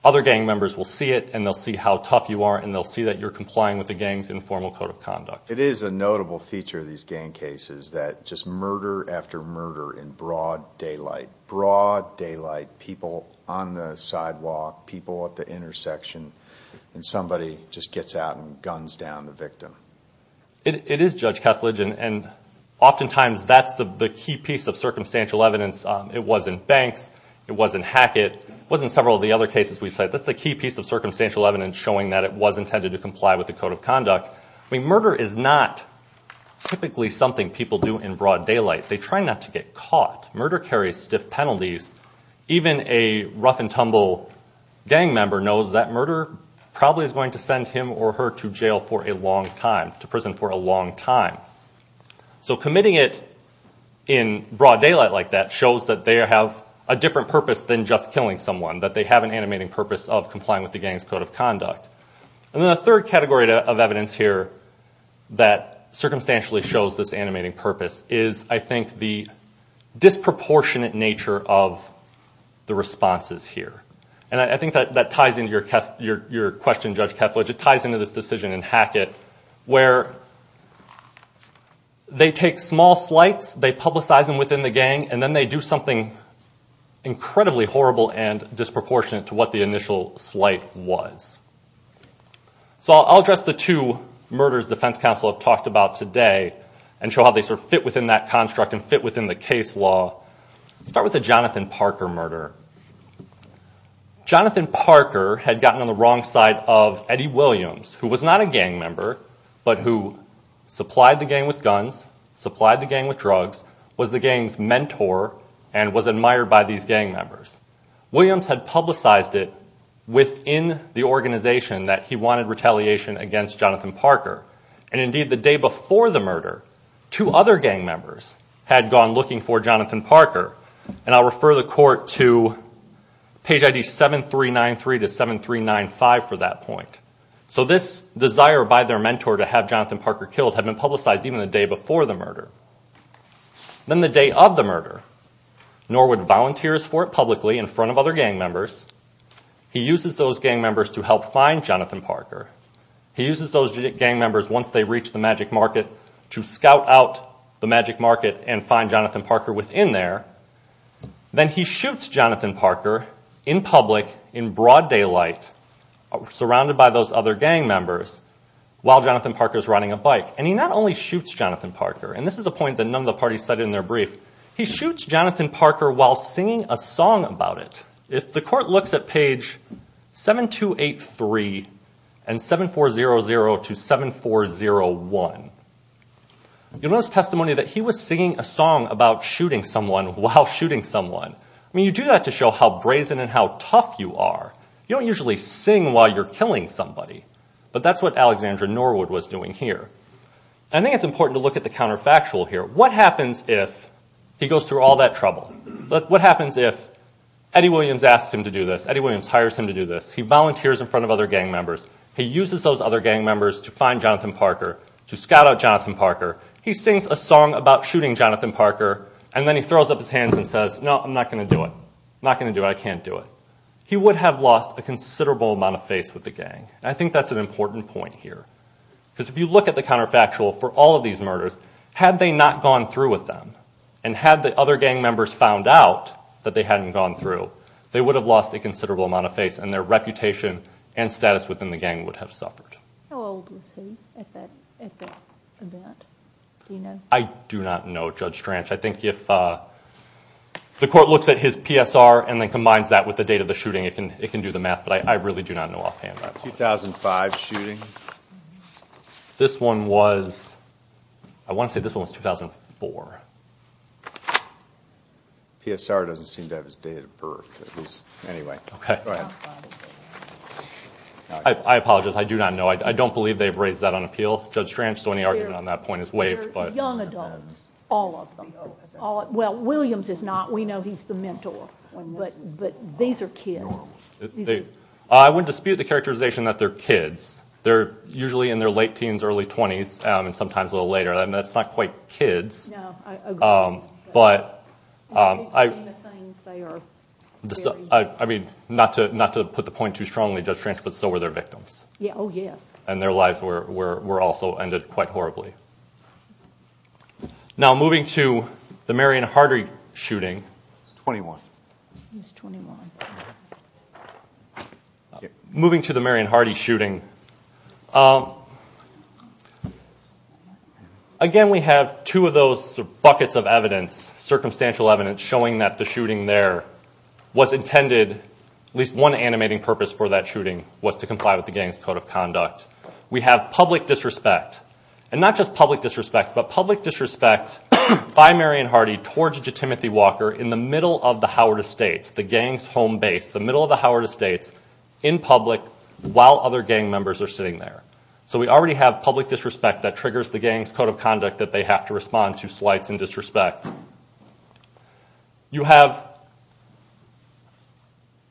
other gang members will see it and they'll see how tough you are and they'll see that you're complying with the gang's informal code of conduct. It is a notable feature of these gang cases that just murder after murder in broad daylight, broad daylight, people on the sidewalk, people at the intersection, and somebody just gets out and guns down the victim. It is, Judge Kesslidge, and oftentimes that's the key piece of circumstantial evidence. It was in Banks, it was in Hackett, it was in several of the other cases we've said. That's a key piece of circumstantial evidence showing that it was intended to comply with the code of conduct. Murder is not typically something people do in broad daylight. They try not to get caught. Murder carries stiff penalties. Even a rough-and-tumble gang member knows that murder probably is going to send him or her to jail for a long time, to prison for a long time. So committing it in broad daylight like that shows that they have a different purpose than just killing someone, that they have an animated purpose of complying with the gang's code of conduct. And then the third category of evidence here that circumstantially shows this animated purpose is, I think, the disproportionate nature of the responses here. And I think that ties into your question, Judge Kesslidge, it ties into this decision in Hackett where they take small slights, they publicize them within the gang, and then they do something incredibly horrible and disproportionate to what the initial slight was. So I'll address the two murders the defense counsel have talked about today and show how they sort of fit within that construct and fit within the case law. Let's start with the Jonathan Parker murder. Jonathan Parker had gotten on the wrong side of Eddie Williams, who was not a gang member, but who supplied the gang with guns, supplied the gang with drugs, was the gang's mentor, and was admired by these gang members. Williams had publicized it within the organization that he wanted retaliation against Jonathan Parker. And indeed, the day before the murder, two other gang members had gone looking for Jonathan Parker. And I'll refer the court to page ID 7393 to 7395 for that point. So this desire by their mentor to have Jonathan Parker killed had been publicized even the day before the murder. Then the day of the murder, Norwood volunteers for it publicly in front of other gang members. He uses those gang members to help find Jonathan Parker. He uses those gang members, once they reach the Magic Market, to scout out the Magic Market and find Jonathan Parker within there. Then he shoots Jonathan Parker in public in broad daylight, surrounded by those other gang members, while Jonathan Parker is running a bike. And he not only shoots Jonathan Parker, and this is a point that none of the parties said in their brief, he shoots Jonathan Parker while singing a song about it. If the court looks at page 7283 and 7400 to 7401, you'll notice testimony that he was singing a song about shooting someone while shooting someone. I mean, you do that to show how brazen and how tough you are. You don't usually sing while you're killing somebody. But that's what Alexandra Norwood was doing here. I think it's important to look at the counterfactual here. What happens if he goes through all that trouble? What happens if Eddie Williams asks him to do this? Eddie Williams hires him to do this? He volunteers in front of other gang members. He uses those other gang members to find Jonathan Parker, to scout out Jonathan Parker. He sings a song about shooting Jonathan Parker. And then he throws up his hands and says, no, I'm not going to do it. I'm not going to do it. I can't do it. He would have lost a considerable amount of faith with the gang. And I think that's an important point here. Because if you look at the counterfactual for all of these murders, had they not gone through with them and had the other gang members found out that they hadn't gone through, they would have lost a considerable amount of faith and their reputation and status within the gang would have suffered. How old was he at that event? Do you know? I do not know, Judge Tranch. I think if the court looks at his PSR and then combines that with the date of the shooting, it can do the math. But I really do not know offhand that far. 2005 shooting? This one was, I want to say this one was 2004. PSR doesn't seem to have his date of birth. Anyway. I apologize. I do not know. I don't believe they've raised that on appeal, Judge Tranch. So any argument on that point is waived. Young adults, all of them. Well, Williams is not. We know he's the mentor. But these are kids. I would dispute the characterization that they're kids. They're usually in their late teens, early 20s, and sometimes a little later. That's not quite kids. No, I agree. But I mean, not to put the point too strongly, Judge Tranch, but so were their victims. Oh, yes. And their lives were also ended quite horribly. Now, moving to the Marion Hardy shooting. He's 21. He's 21. Moving to the Marion Hardy shooting. Again, we have two of those buckets of evidence, circumstantial evidence, showing that the shooting there was intended, at least one animating purpose for that shooting, was to comply with the gang's code of conduct. We have public disrespect, and not just public disrespect, but public disrespect by Marion Hardy towards Judge Timothy Walker in the middle of the Howard Estates, the gang's home base, the middle of the Howard Estates, in public, while other gang members are sitting there. So we already have public disrespect that triggers the gang's code of conduct that they have to respond to slights and disrespect. You have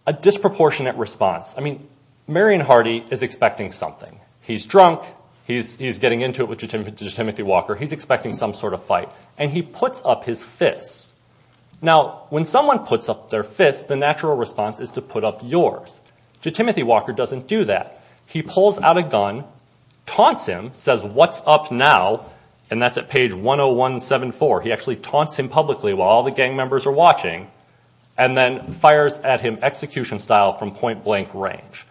a disproportionate response. I mean, Marion Hardy is expecting something. He's drunk. He's getting into it with Judge Timothy Walker. He's expecting some sort of fight, and he puts up his fist. Now, when someone puts up their fist, the natural response is to put up yours. Judge Timothy Walker doesn't do that. He pulls out a gun, taunts him, says, what's up now, and that's at page 10174. He actually taunts him publicly while all the gang members are watching, and then fires at him execution-style from point-blank range.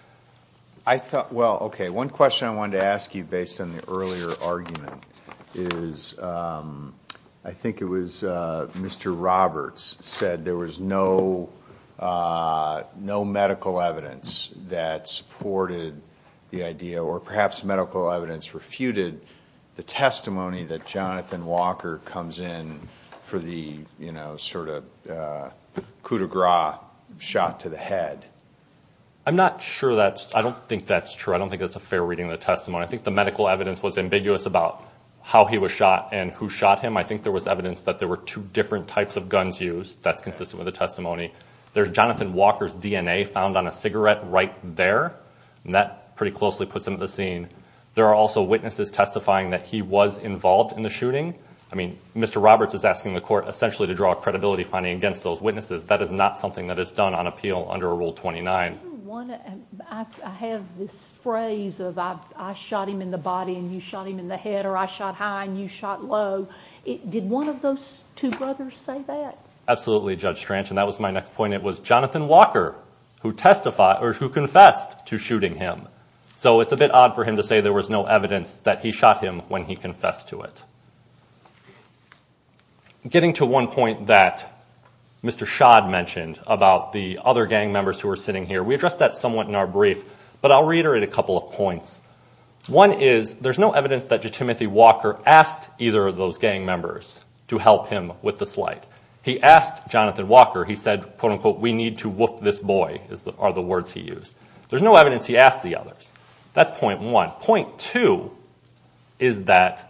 Well, okay, one question I wanted to ask you based on the earlier argument is, I think it was Mr. Roberts said there was no medical evidence that supported the idea, or perhaps medical evidence refuted the testimony that Jonathan Walker comes in for the sort of coup de gras shot to the head. I'm not sure that's true. I don't think that's a fair reading of the testimony. I think the medical evidence was ambiguous about how he was shot and who shot him. I think there was evidence that there were two different types of guns used. That's consistent with the testimony. There's Jonathan Walker's DNA found on a cigarette right there, and that pretty closely puts him to the scene. There are also witnesses testifying that he was involved in the shooting. I mean, Mr. Roberts is asking the court essentially to draw a credibility finding against those witnesses. That is not something that is done on appeal under Rule 29. I have this phrase of, I shot him in the body and you shot him in the head, or I shot high and you shot low. Did one of those two brothers say that? Absolutely, Judge Strange, and that was my next point. It was Jonathan Walker who confessed to shooting him. So it's a bit odd for him to say there was no evidence that he shot him when he confessed to it. Getting to one point that Mr. Shad mentioned about the other gang members who are sitting here, we addressed that somewhat in our brief, but I'll reiterate a couple of points. One is there's no evidence that Judge Timothy Walker asked either of those gang members to help him with the flight. He asked Jonathan Walker, he said, quote-unquote, we need to whoop this boy are the words he used. There's no evidence he asked the others. That's point one. Point two is that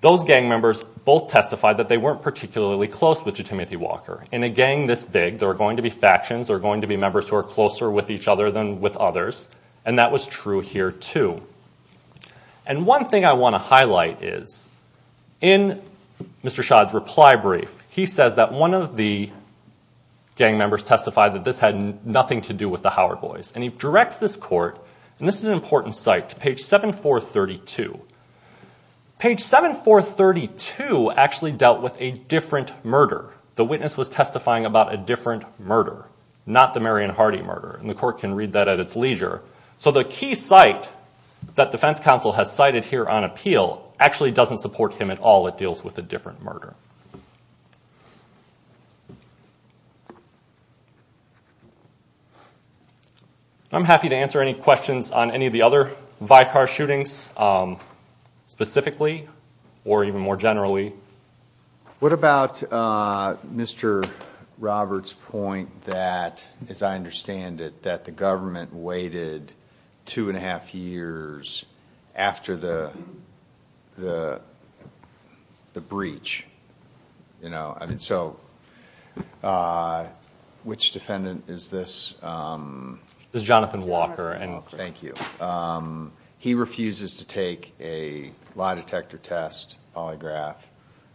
those gang members both testified that they weren't particularly close with Judge Timothy Walker. In a gang this big, there are going to be factions, there are going to be members who are closer with each other than with others, and that was true here, too. And one thing I want to highlight is in Mr. Shad's reply brief, he says that one of the gang members testified that this had nothing to do with the Howard boys, and he directs this court, and this is an important site, to page 7432. Page 7432 actually dealt with a different murder. The witness was testifying about a different murder, not the Marion Hardy murder, and the court can read that at its leisure. So the key site that defense counsel has cited here on appeal actually doesn't support him at all. It deals with a different murder. I'm happy to answer any questions on any of the other Vicar shootings specifically or even more generally. What about Mr. Roberts' point that, as I understand it, that the government waited two and a half years after the breach? So which defendant is this? This is Jonathan Walker. Thank you. He refuses to take a lie detector test polygraph,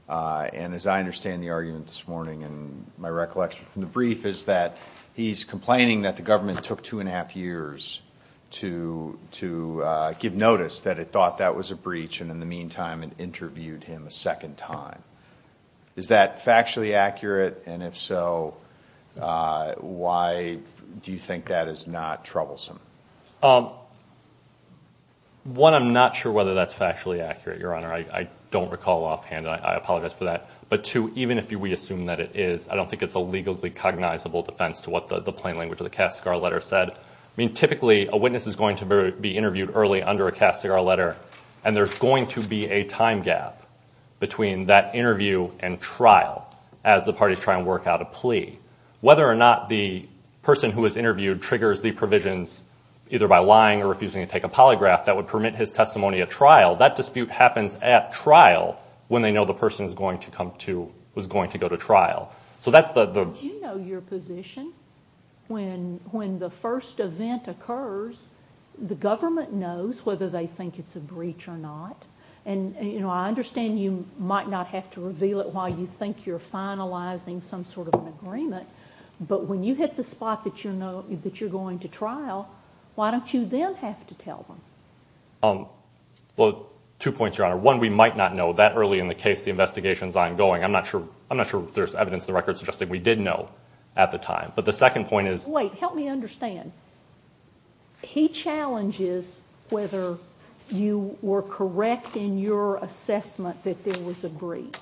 and as I understand the argument this morning in my recollection from the brief is that he's complaining that the government took two and a half years to give notice that it thought that was a breach, and in the meantime it interviewed him a second time. Is that factually accurate? And if so, why do you think that is not troublesome? One, I'm not sure whether that's factually accurate, Your Honor. I don't recall offhand, and I apologize for that. But two, even if we assume that it is, I don't think it's a legally cognizable defense to what the plain language of the Catscar letter said. I mean, typically a witness is going to be interviewed early under a Catscar letter, and there's going to be a time gap between that interview and trial as the parties try and work out a plea. Whether or not the person who was interviewed triggers the provisions either by lying or refusing to take a polygraph that would permit his testimony at trial, that dispute happens at trial when they know the person was going to go to trial. So that's the... Do you know your position? When the first event occurs, the government knows whether they think it's a breach or not, and I understand you might not have to reveal it while you think you're finalizing some sort of agreement, but when you hit the spot that you're going to trial, why don't you then have to tell them? Well, two points, Your Honor. One, we might not know that early in the case the investigation is ongoing. I'm not sure there's evidence in the records suggesting we did know at the time. But the second point is... Wait, help me understand. He challenges whether you were correct in your assessment that there was a breach,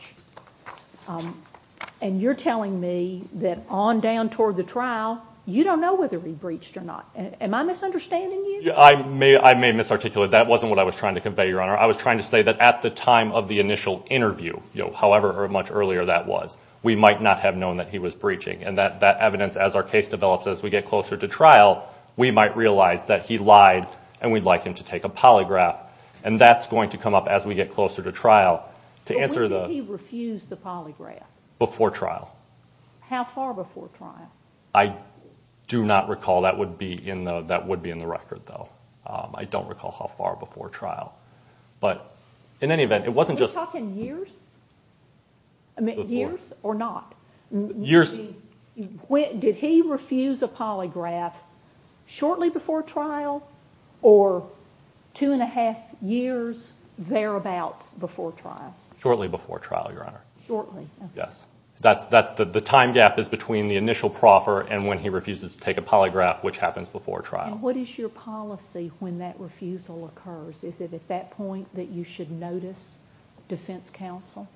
and you're telling me that on down toward the trial, you don't know whether he breached or not. Am I misunderstanding you? I may misarticulate. That wasn't what I was trying to convey, Your Honor. I was trying to say that at the time of the initial interview, however much earlier that was, we might not have known that he was breaching, and that evidence as our case develops as we get closer to trial, we might realize that he lied and we'd like him to take a polygraph, and that's going to come up as we get closer to trial to answer the... When did he refuse the polygraph? Before trial. How far before trial? I do not recall. That would be in the record, though. I don't recall how far before trial. But in any event, it wasn't just... Are you talking years? I mean, years or not? Years. Did he refuse a polygraph shortly before trial or two and a half years thereabout before trial? Shortly before trial, Your Honor. Shortly. Yes. The time gap is between the initial proffer and when he refuses to take a polygraph, which happens before trial. And what is your policy when that refusal occurs? Is it at that point that you should notice defense counsel?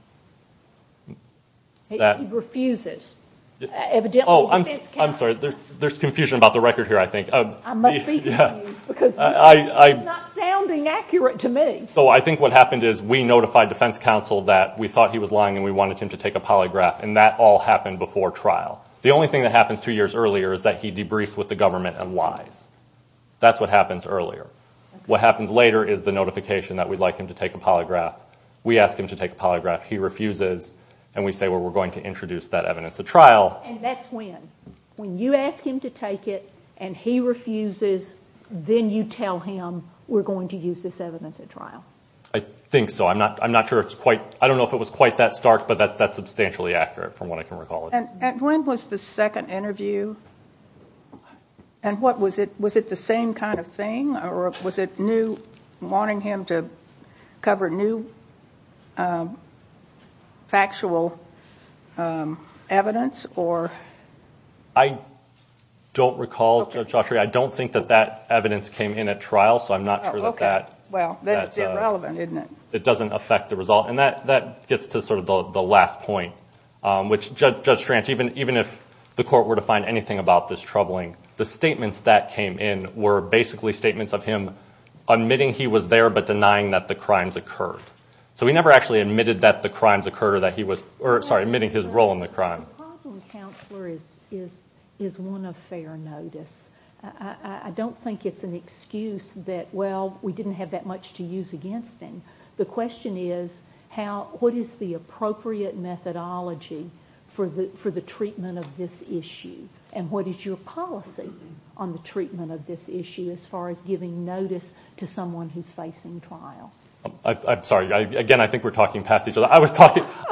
He refuses. Oh, I'm sorry. There's confusion about the record here, I think. I must be confused because it's not sounding accurate to me. So I think what happened is we notified defense counsel that we thought he was lying and we wanted him to take a polygraph, and that all happened before trial. The only thing that happened two years earlier is that he debriefed with the government and lied. That's what happens earlier. What happens later is the notification that we'd like him to take a polygraph. We ask him to take a polygraph. He refuses, and we say, well, we're going to introduce that evidence at trial. And that's when, when you ask him to take it and he refuses, then you tell him we're going to use this evidence at trial. I think so. I'm not sure it's quite, I don't know if it was quite that stark, but that's substantially accurate from what I can recall. And when was the second interview, and what was it, was it the same kind of thing or was it new, wanting him to cover new factual evidence or? I don't recall, Judge Autry. I don't think that that evidence came in at trial, so I'm not sure that that. Okay. Well, that's irrelevant, isn't it? It doesn't affect the result. And that gets to sort of the last point, which, Judge Schrantz, even if the court were to find anything about this troubling, the statements that came in were basically statements of him admitting he was there but denying that the crimes occurred. So he never actually admitted that the crimes occurred or that he was, or sorry, admitting his role in the crime. The problem with counselor is one of fair notice. I don't think it's an excuse that, well, we didn't have that much to use against him. The question is what is the appropriate methodology for the treatment of this issue and what is your policy on the treatment of this issue as far as giving notice to someone who's facing trial? I'm sorry. Again, I think we're talking past each other. I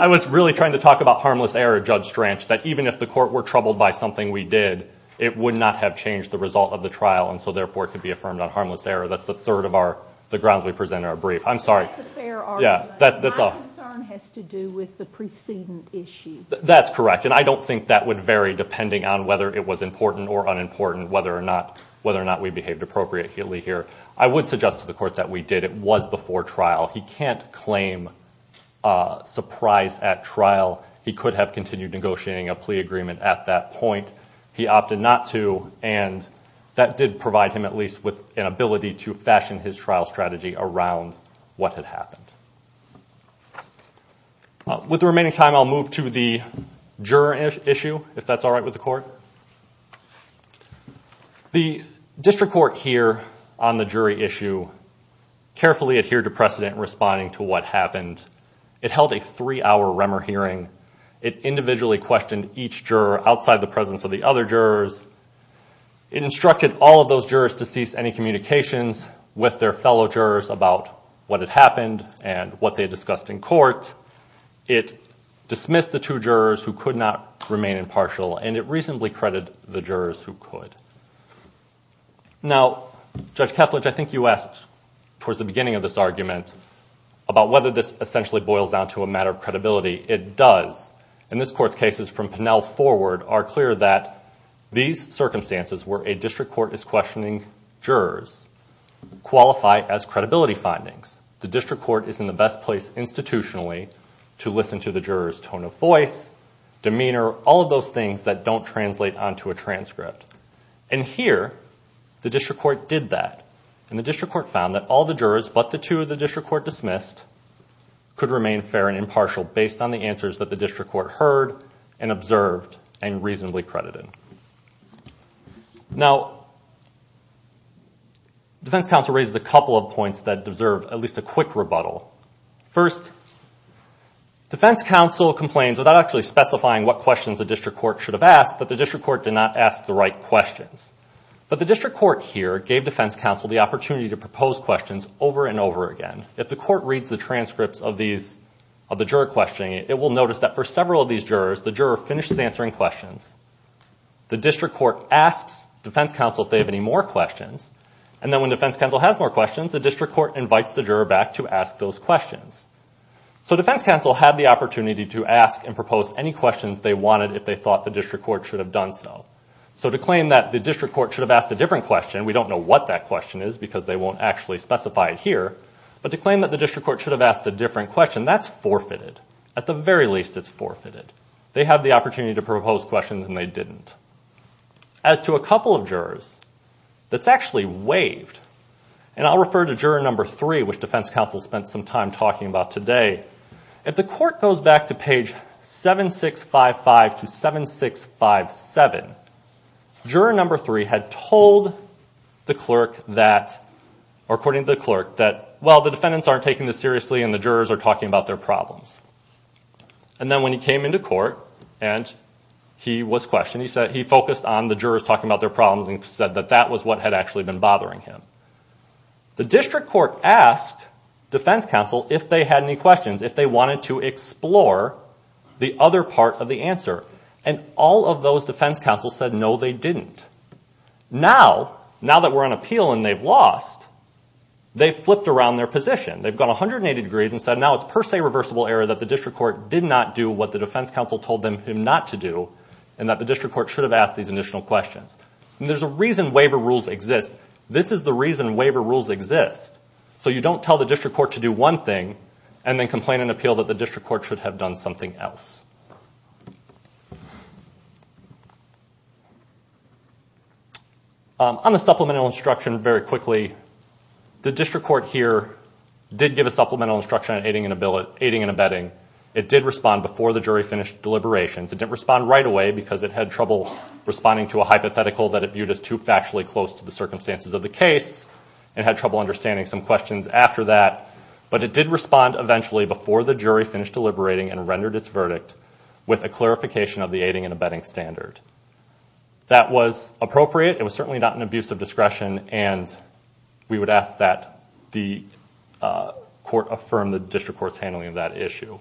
was really trying to talk about harmless error, Judge Schrantz, that even if the court were troubled by something we did, it would not have changed the result of the trial and so therefore it could be affirmed on harmless error. That's the third of the grounds we present in our brief. I'm sorry. That's a fair argument. My concern has to do with the preceding issue. That's correct, and I don't think that would vary depending on whether it was important or unimportant whether or not we behaved appropriately here. I would suggest to the court that we did. It was before trial. He can't claim surprise at trial. He could have continued negotiating a plea agreement at that point. He opted not to, and that did provide him at least with an ability to fashion his trial strategy around what had happened. With the remaining time, I'll move to the juror issue, if that's all right with the court. The district court here on the jury issue carefully adhered to precedent in responding to what happened. It held a three-hour REMER hearing. It individually questioned each juror outside the presence of the other jurors. It instructed all of those jurors to cease any communications with their fellow jurors about what had happened and what they discussed in court. It dismissed the two jurors who could not remain impartial, and it reasonably credited the jurors who could. Now, Judge Ketledge, I think you asked towards the beginning of this argument about whether this essentially boils down to a matter of credibility. It does. In this court's cases from Pinnell forward are clear that these circumstances where a district court is questioning jurors qualify as credibility findings. The district court is in the best place institutionally to listen to the juror's tone of voice, demeanor, all of those things that don't translate onto a transcript. Here, the district court did that. The district court found that all the jurors but the two the district court dismissed could remain fair and impartial based on the answers that the district court heard and observed and reasonably credited. Now, defense counsel raises a couple of points that deserve at least a quick rebuttal. First, defense counsel complains without actually specifying what questions the district court should have asked, but the district court did not ask the right questions. But the district court here gave defense counsel the opportunity to propose questions over and over again. If the court reads the transcripts of the juror questioning, it will notice that for several of these jurors, the juror finishes answering questions. The district court asks defense counsel if they have any more questions, and then when defense counsel has more questions, the district court invites the juror back to ask those questions. So defense counsel had the opportunity to ask and propose any questions they wanted if they thought the district court should have done so. So to claim that the district court should have asked a different question, we don't know what that question is because they won't actually specify it here, but to claim that the district court should have asked a different question, that's forfeited. At the very least, it's forfeited. They had the opportunity to propose questions and they didn't. As to a couple of jurors, that's actually waived. And I'll refer to juror number three, which defense counsel spent some time talking about today. If the court goes back to page 7655 to 7657, juror number three had told the clerk that, or according to the clerk, that, well, the defendants aren't taking this seriously and the jurors are talking about their problems. And then when he came into court and he was questioned, he focused on the jurors talking about their problems and said that that was what had actually been bothering him. The district court asked defense counsel if they had any questions, if they wanted to explore the other part of the answer. And all of those defense counsels said no, they didn't. Now, now that we're in appeal and they've lost, they've flipped around their position. They've gone 180 degrees and said now it's per se reversible error that the district court did not do what the defense counsel told them not to do and that the district court should have asked these additional questions. And there's a reason waiver rules exist. This is the reason waiver rules exist. So you don't tell the district court to do one thing and then complain in appeal that the district court should have done something else. On the supplemental instruction, very quickly, the district court here did give a supplemental instruction on aiding and abetting. It did respond before the jury finished deliberations. It didn't respond right away because it had trouble responding to a hypothetical that it viewed as too factually close to the circumstances of the case. It had trouble understanding some questions after that. But it did respond eventually before the jury finished deliberating and rendered its verdict with a clarification of the aiding and abetting standard. That was appropriate. It was certainly not an abuse of discretion. And we would ask that the court affirm the district court's handling of that issue.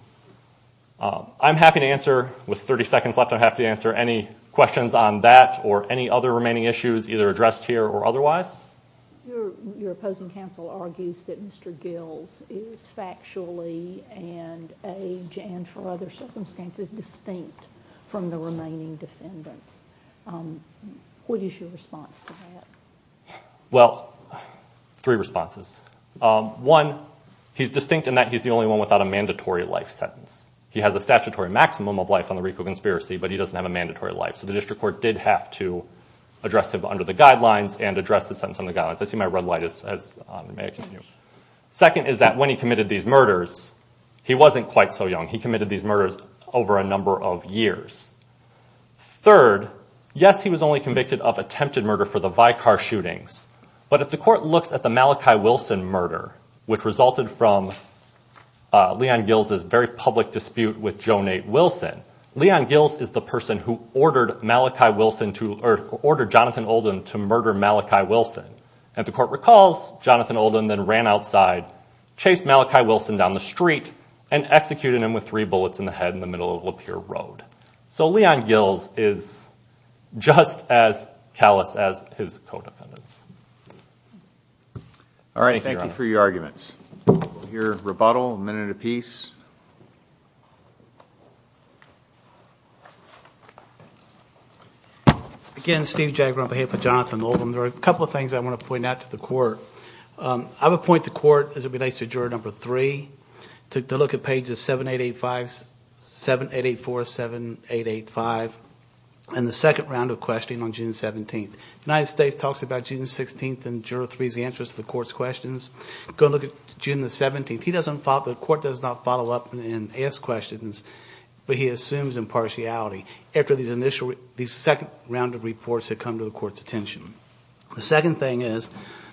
I'm happy to answer, with 30 seconds left, I'm happy to answer any questions on that or any other remaining issues, either addressed here or otherwise. Your opposing counsel argues that Mr. Gills is factually and age and for other circumstances distinct from the remaining defendants. What is your response to that? Well, three responses. One, he's distinct in that he's the only one without a mandatory life sentence. He has a statutory maximum of life on the wreath of conspiracy, but he doesn't have a mandatory life. So the district court did have to address it under the guidelines and address the sentence under the guidelines. I see my red light is on. Second is that when he committed these murders, he wasn't quite so young. He committed these murders over a number of years. Third, yes, he was only convicted of attempted murder for the Vicar shootings. But if the court looks at the Malachi Wilson murder, which resulted from Leon Gills' very public dispute with Joan A. Wilson, Leon Gills is the person who ordered Jonathan Oldham to murder Malachi Wilson. And the court recalls Jonathan Oldham then ran outside, chased Malachi Wilson down the street, and executed him with three bullets in the head in the middle of Lapeer Road. So Leon Gills is just as callous as his co-defendants. All right, thank you for your arguments. We'll hear rebuttal in a minute apiece. Again, Steve Jagraba here for Jonathan Oldham. There are a couple of things I want to point out to the court. I would point to court as it relates to Juror 3 to look at pages 7885, 7884, 7885, and the second round of questioning on June 17th. United States talks about June 16th and Juror 3's answers to the court's questions. Go look at June 17th. The court does not follow up and ask questions, but he assumes impartiality after these second round of reports that come to the court's attention. The second thing is,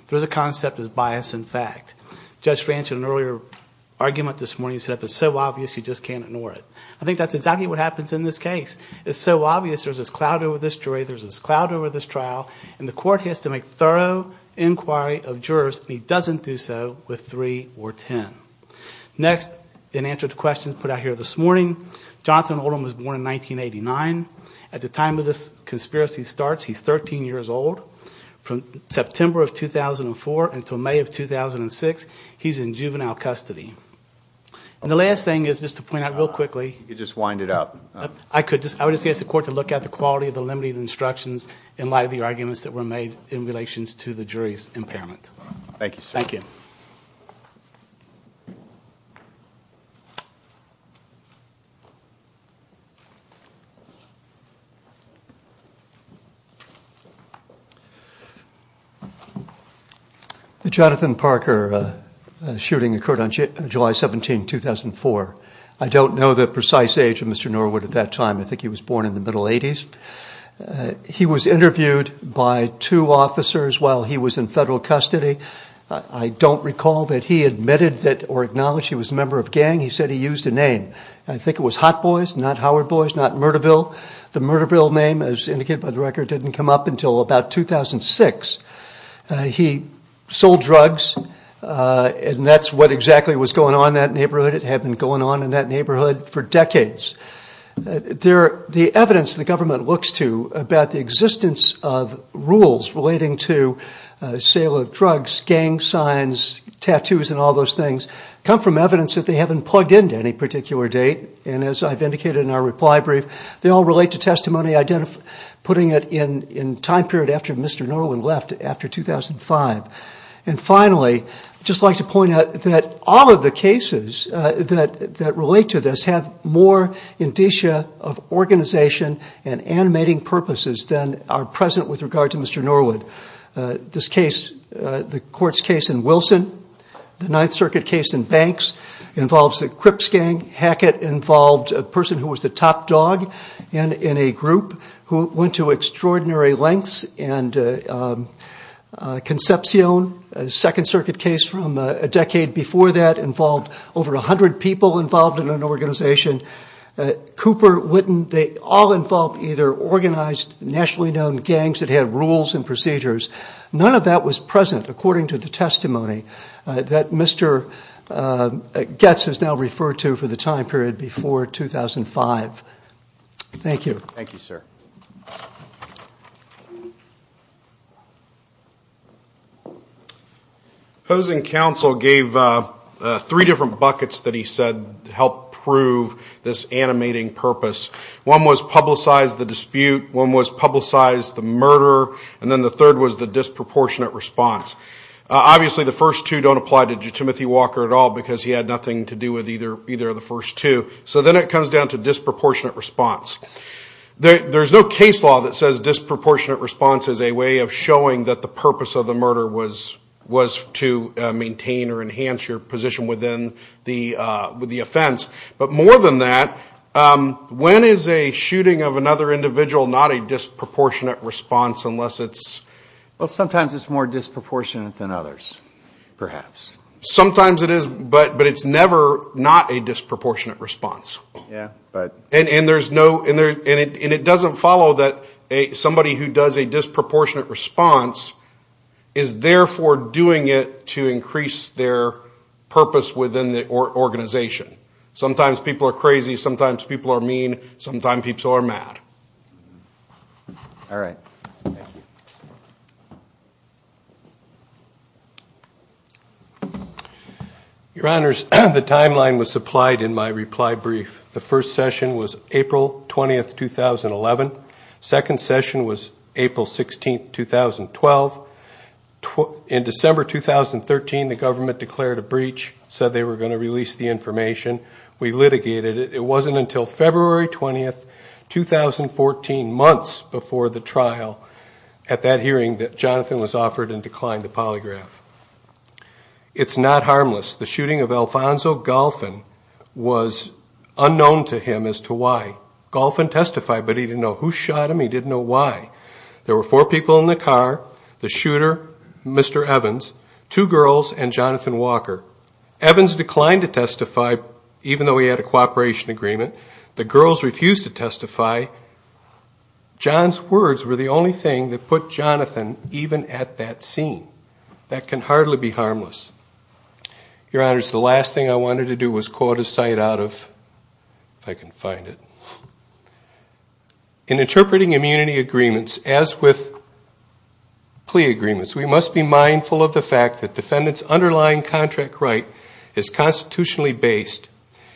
there's a concept of bias in fact. Judge Franchard in an earlier argument this morning said it's so obvious you just can't ignore it. I think that's exactly what happens in this case. It's so obvious there's this cloud over this jury, there's this cloud over this trial, and the court has to make thorough inquiry of jurors. He doesn't do so with 3 or 10. Next, in answer to the questions put out here this morning, Jonathan Oldham was born in 1989. At the time of this conspiracy starts, he's 13 years old. From September of 2004 until May of 2006, he's in juvenile custody. The last thing is just to point out real quickly. You just wind it up. I would ask the court to look at the quality of the limiting instructions and likely arguments that were made in relation to the jury's impairment. Thank you. The Jonathan Parker shooting occurred on July 17, 2004. I don't know the precise age of Mr. Norwood at that time. I think he was born in the middle 80s. He was interviewed by two officers while he was in federal custody. I don't recall that he admitted or acknowledged he was a member of a gang. He said he used a name. I think it was Hot Boys, not Howard Boys, not Murderville. The Murderville name, as indicated by the record, didn't come up until about 2006. He sold drugs, and that's what exactly was going on in that neighborhood. It had been going on in that neighborhood for decades. The evidence the government looks to about the existence of rules relating to sale of drugs, gang signs, tattoos, and all those things come from evidence that they haven't plugged into any particular date. As I've indicated in our reply brief, they all relate to testimony putting it in time period after Mr. Norwood left, after 2005. Finally, I'd just like to point out that all of the cases that relate to this have more indicia of organization and animating purposes than are present with regard to Mr. Norwood. This case, the courts case in Wilson, the Ninth Circuit case in Banks involves a Crips gang. Hackett involved a person who was the top dog in a group who went to extraordinary lengths, and Concepcion, a Second Circuit case from a decade before that, involved over 100 people involved in an organization. Cooper, Witten, they all involve either organized nationally known gangs that have rules and procedures. None of that was present according to the testimony that Mr. Goetz has now referred to for the time period before 2005. Thank you. Thank you, sir. Housing Council gave three different buckets that he said helped prove this animating purpose. One was publicize the dispute, one was publicize the murder, and then the third was the disproportionate response. Obviously, the first two don't apply to Timothy Walker at all because he had nothing to do with either of the first two. So then it comes down to disproportionate response. There's no case law that says disproportionate response is a way of showing that the purpose of the murder was to maintain or enhance your position within the offense. But more than that, when is a shooting of another individual not a disproportionate response unless it's... Well, sometimes it's more disproportionate than others, perhaps. Sometimes it is, but it's never not a disproportionate response. And it doesn't follow that somebody who does a disproportionate response is therefore doing it to increase their purpose within the organization. Sometimes people are crazy, sometimes people are mean, sometimes people are mad. All right. Your Honors, the timeline was supplied in my reply brief. The first session was April 20, 2011. The second session was April 16, 2012. In December 2013, the government declared a breach, said they were going to release the information. We litigated it. It wasn't until February 20, 2014, months before the trial at that hearing that Jonathan was offered and declined the polygraph. It's not harmless. The shooting of Alfonso Golfin was unknown to him as to why. Golfin testified, but he didn't know who shot him. He didn't know why. There were four people in the car, the shooter, Mr. Evans, two girls, and Jonathan Walker. Evans declined to testify, even though he had a cooperation agreement. The girls refused to testify. John's words were the only thing that put Jonathan even at that scene. That can hardly be harmless. Your Honors, the last thing I wanted to do was quote a site out of, if I can find it. In interpreting immunity agreements, as with plea agreements, we must be mindful of the fact that defendants' underlying contract right is constitutionally based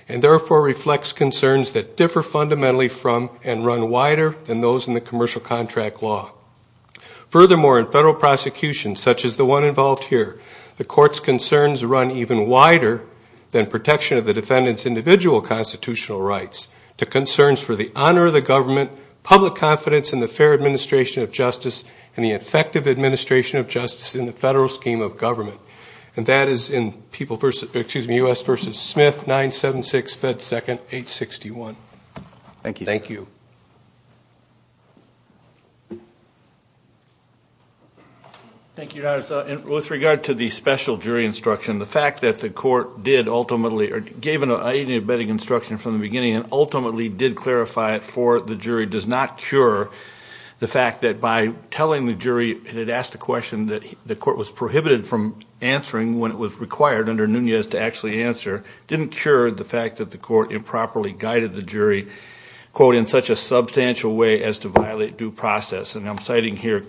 and, therefore, reflects concerns that differ fundamentally from and run wider than those in the commercial contract law. Furthermore, in federal prosecutions, such as the one involved here, the Court's concerns run even wider than protection of the defendant's individual constitutional rights to concerns for the honor of the government, public confidence in the fair administration of justice, and the effective administration of justice in the federal scheme of government. And that is in U.S. v. Smith, 976 Bed 2nd, 861. Thank you. Thank you. Thank you, Your Honors. With regard to the special jury instruction, the fact that the Court did ultimately or gave an abetting instruction from the beginning and ultimately did clarify it for the jury does not cure the fact that by telling the jury it had asked a question, that the Court was prohibited from answering when it was required under Nunez to actually answer, didn't cure the fact that the Court improperly guided the jury, quote, in such a substantial way as to violate due process. And I'm citing here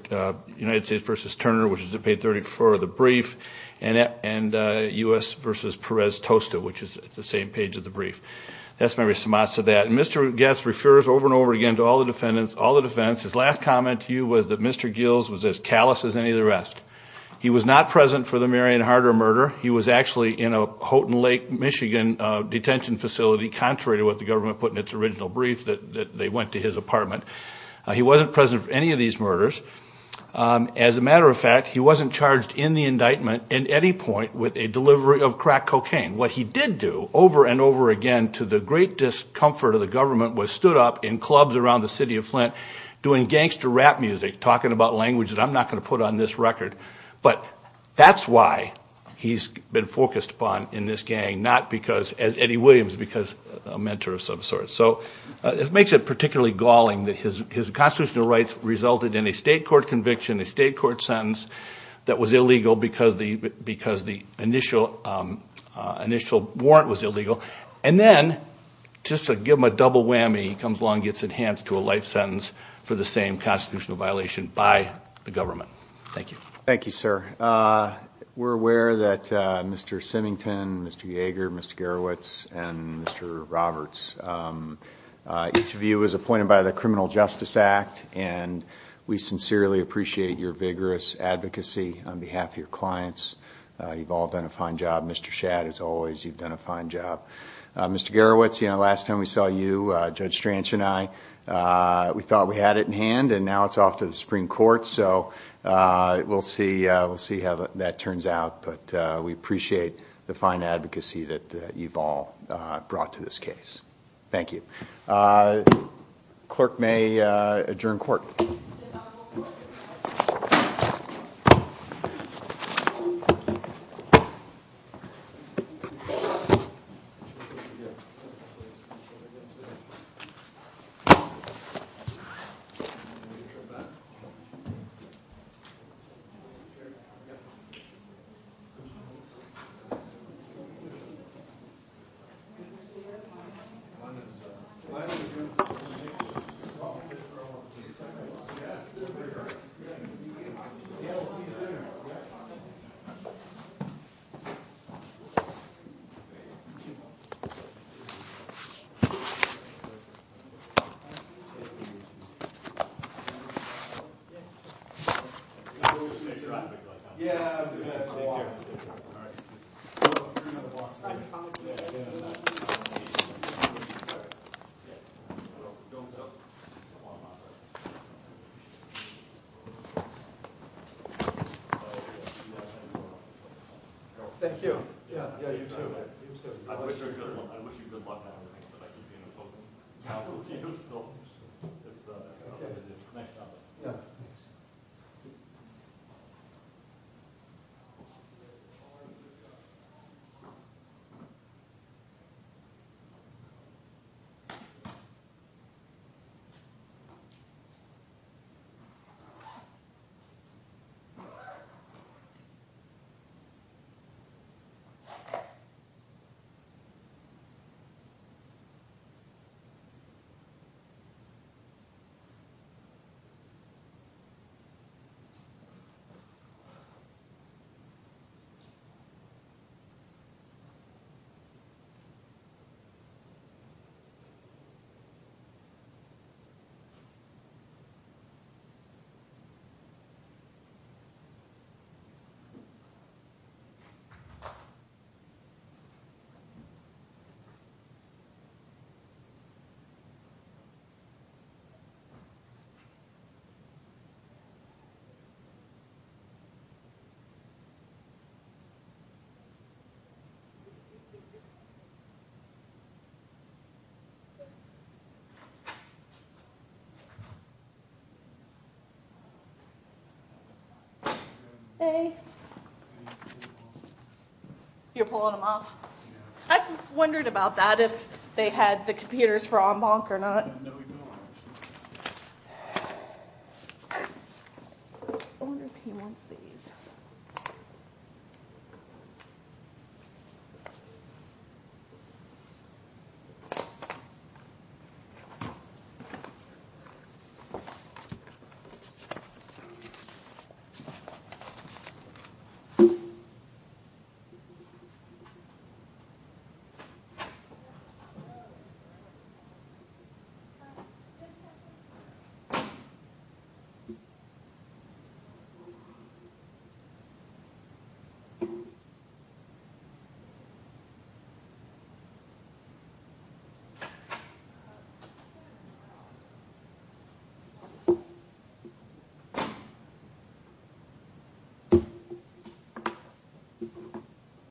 United States v. Turner, which is the page 34 of the brief, and U.S. v. Perez-Tosta, which is the same page of the brief. That's Mary Somaz to that. And Mr. Guest refers over and over again to all the defendants, all the defendants. His last comment to you was that Mr. Gills was as callous as any of the rest. He was not present for the Marion Harder murder. He was actually in a Houghton Lake, Michigan, detention facility, contrary to what the government put in its original brief that they went to his apartment. He wasn't present for any of these murders. As a matter of fact, he wasn't charged in the indictment at any point with a delivery of crack cocaine. What he did do over and over again to the great discomfort of the government was stood up in clubs around the city of Flint doing gangster rap music, talking about language that I'm not going to put on this record. But that's why he's been focused upon in this gang, not because, as Eddie Williams, because a mentor of some sort. So it makes it particularly galling that his constitutional rights resulted in a state court conviction, a state court sentence that was illegal because the initial warrant was illegal. And then, just to give him a double whammy, he comes along and gets enhanced to a life sentence for the same constitutional violation by the government. Thank you. Thank you, sir. We're aware that Mr. Simington, Mr. Yeager, Mr. Garowitz, and Mr. Roberts, each of you was appointed by the Criminal Justice Act, and we sincerely appreciate your vigorous advocacy on behalf of your clients. You've all done a fine job. Mr. Shadd, as always, you've done a fine job. Mr. Garowitz, the last time we saw you, Judge Stranch and I, we thought we had it in hand, and now it's off to the Supreme Court, so we'll see how that turns out. But we appreciate the fine advocacy that you've all brought to this case. Thank you. Clerk may adjourn court. Thank you. Thank you. Thank you. I wish you a good one. Thank you. Thank you. Thank you. Thank you. Thank you.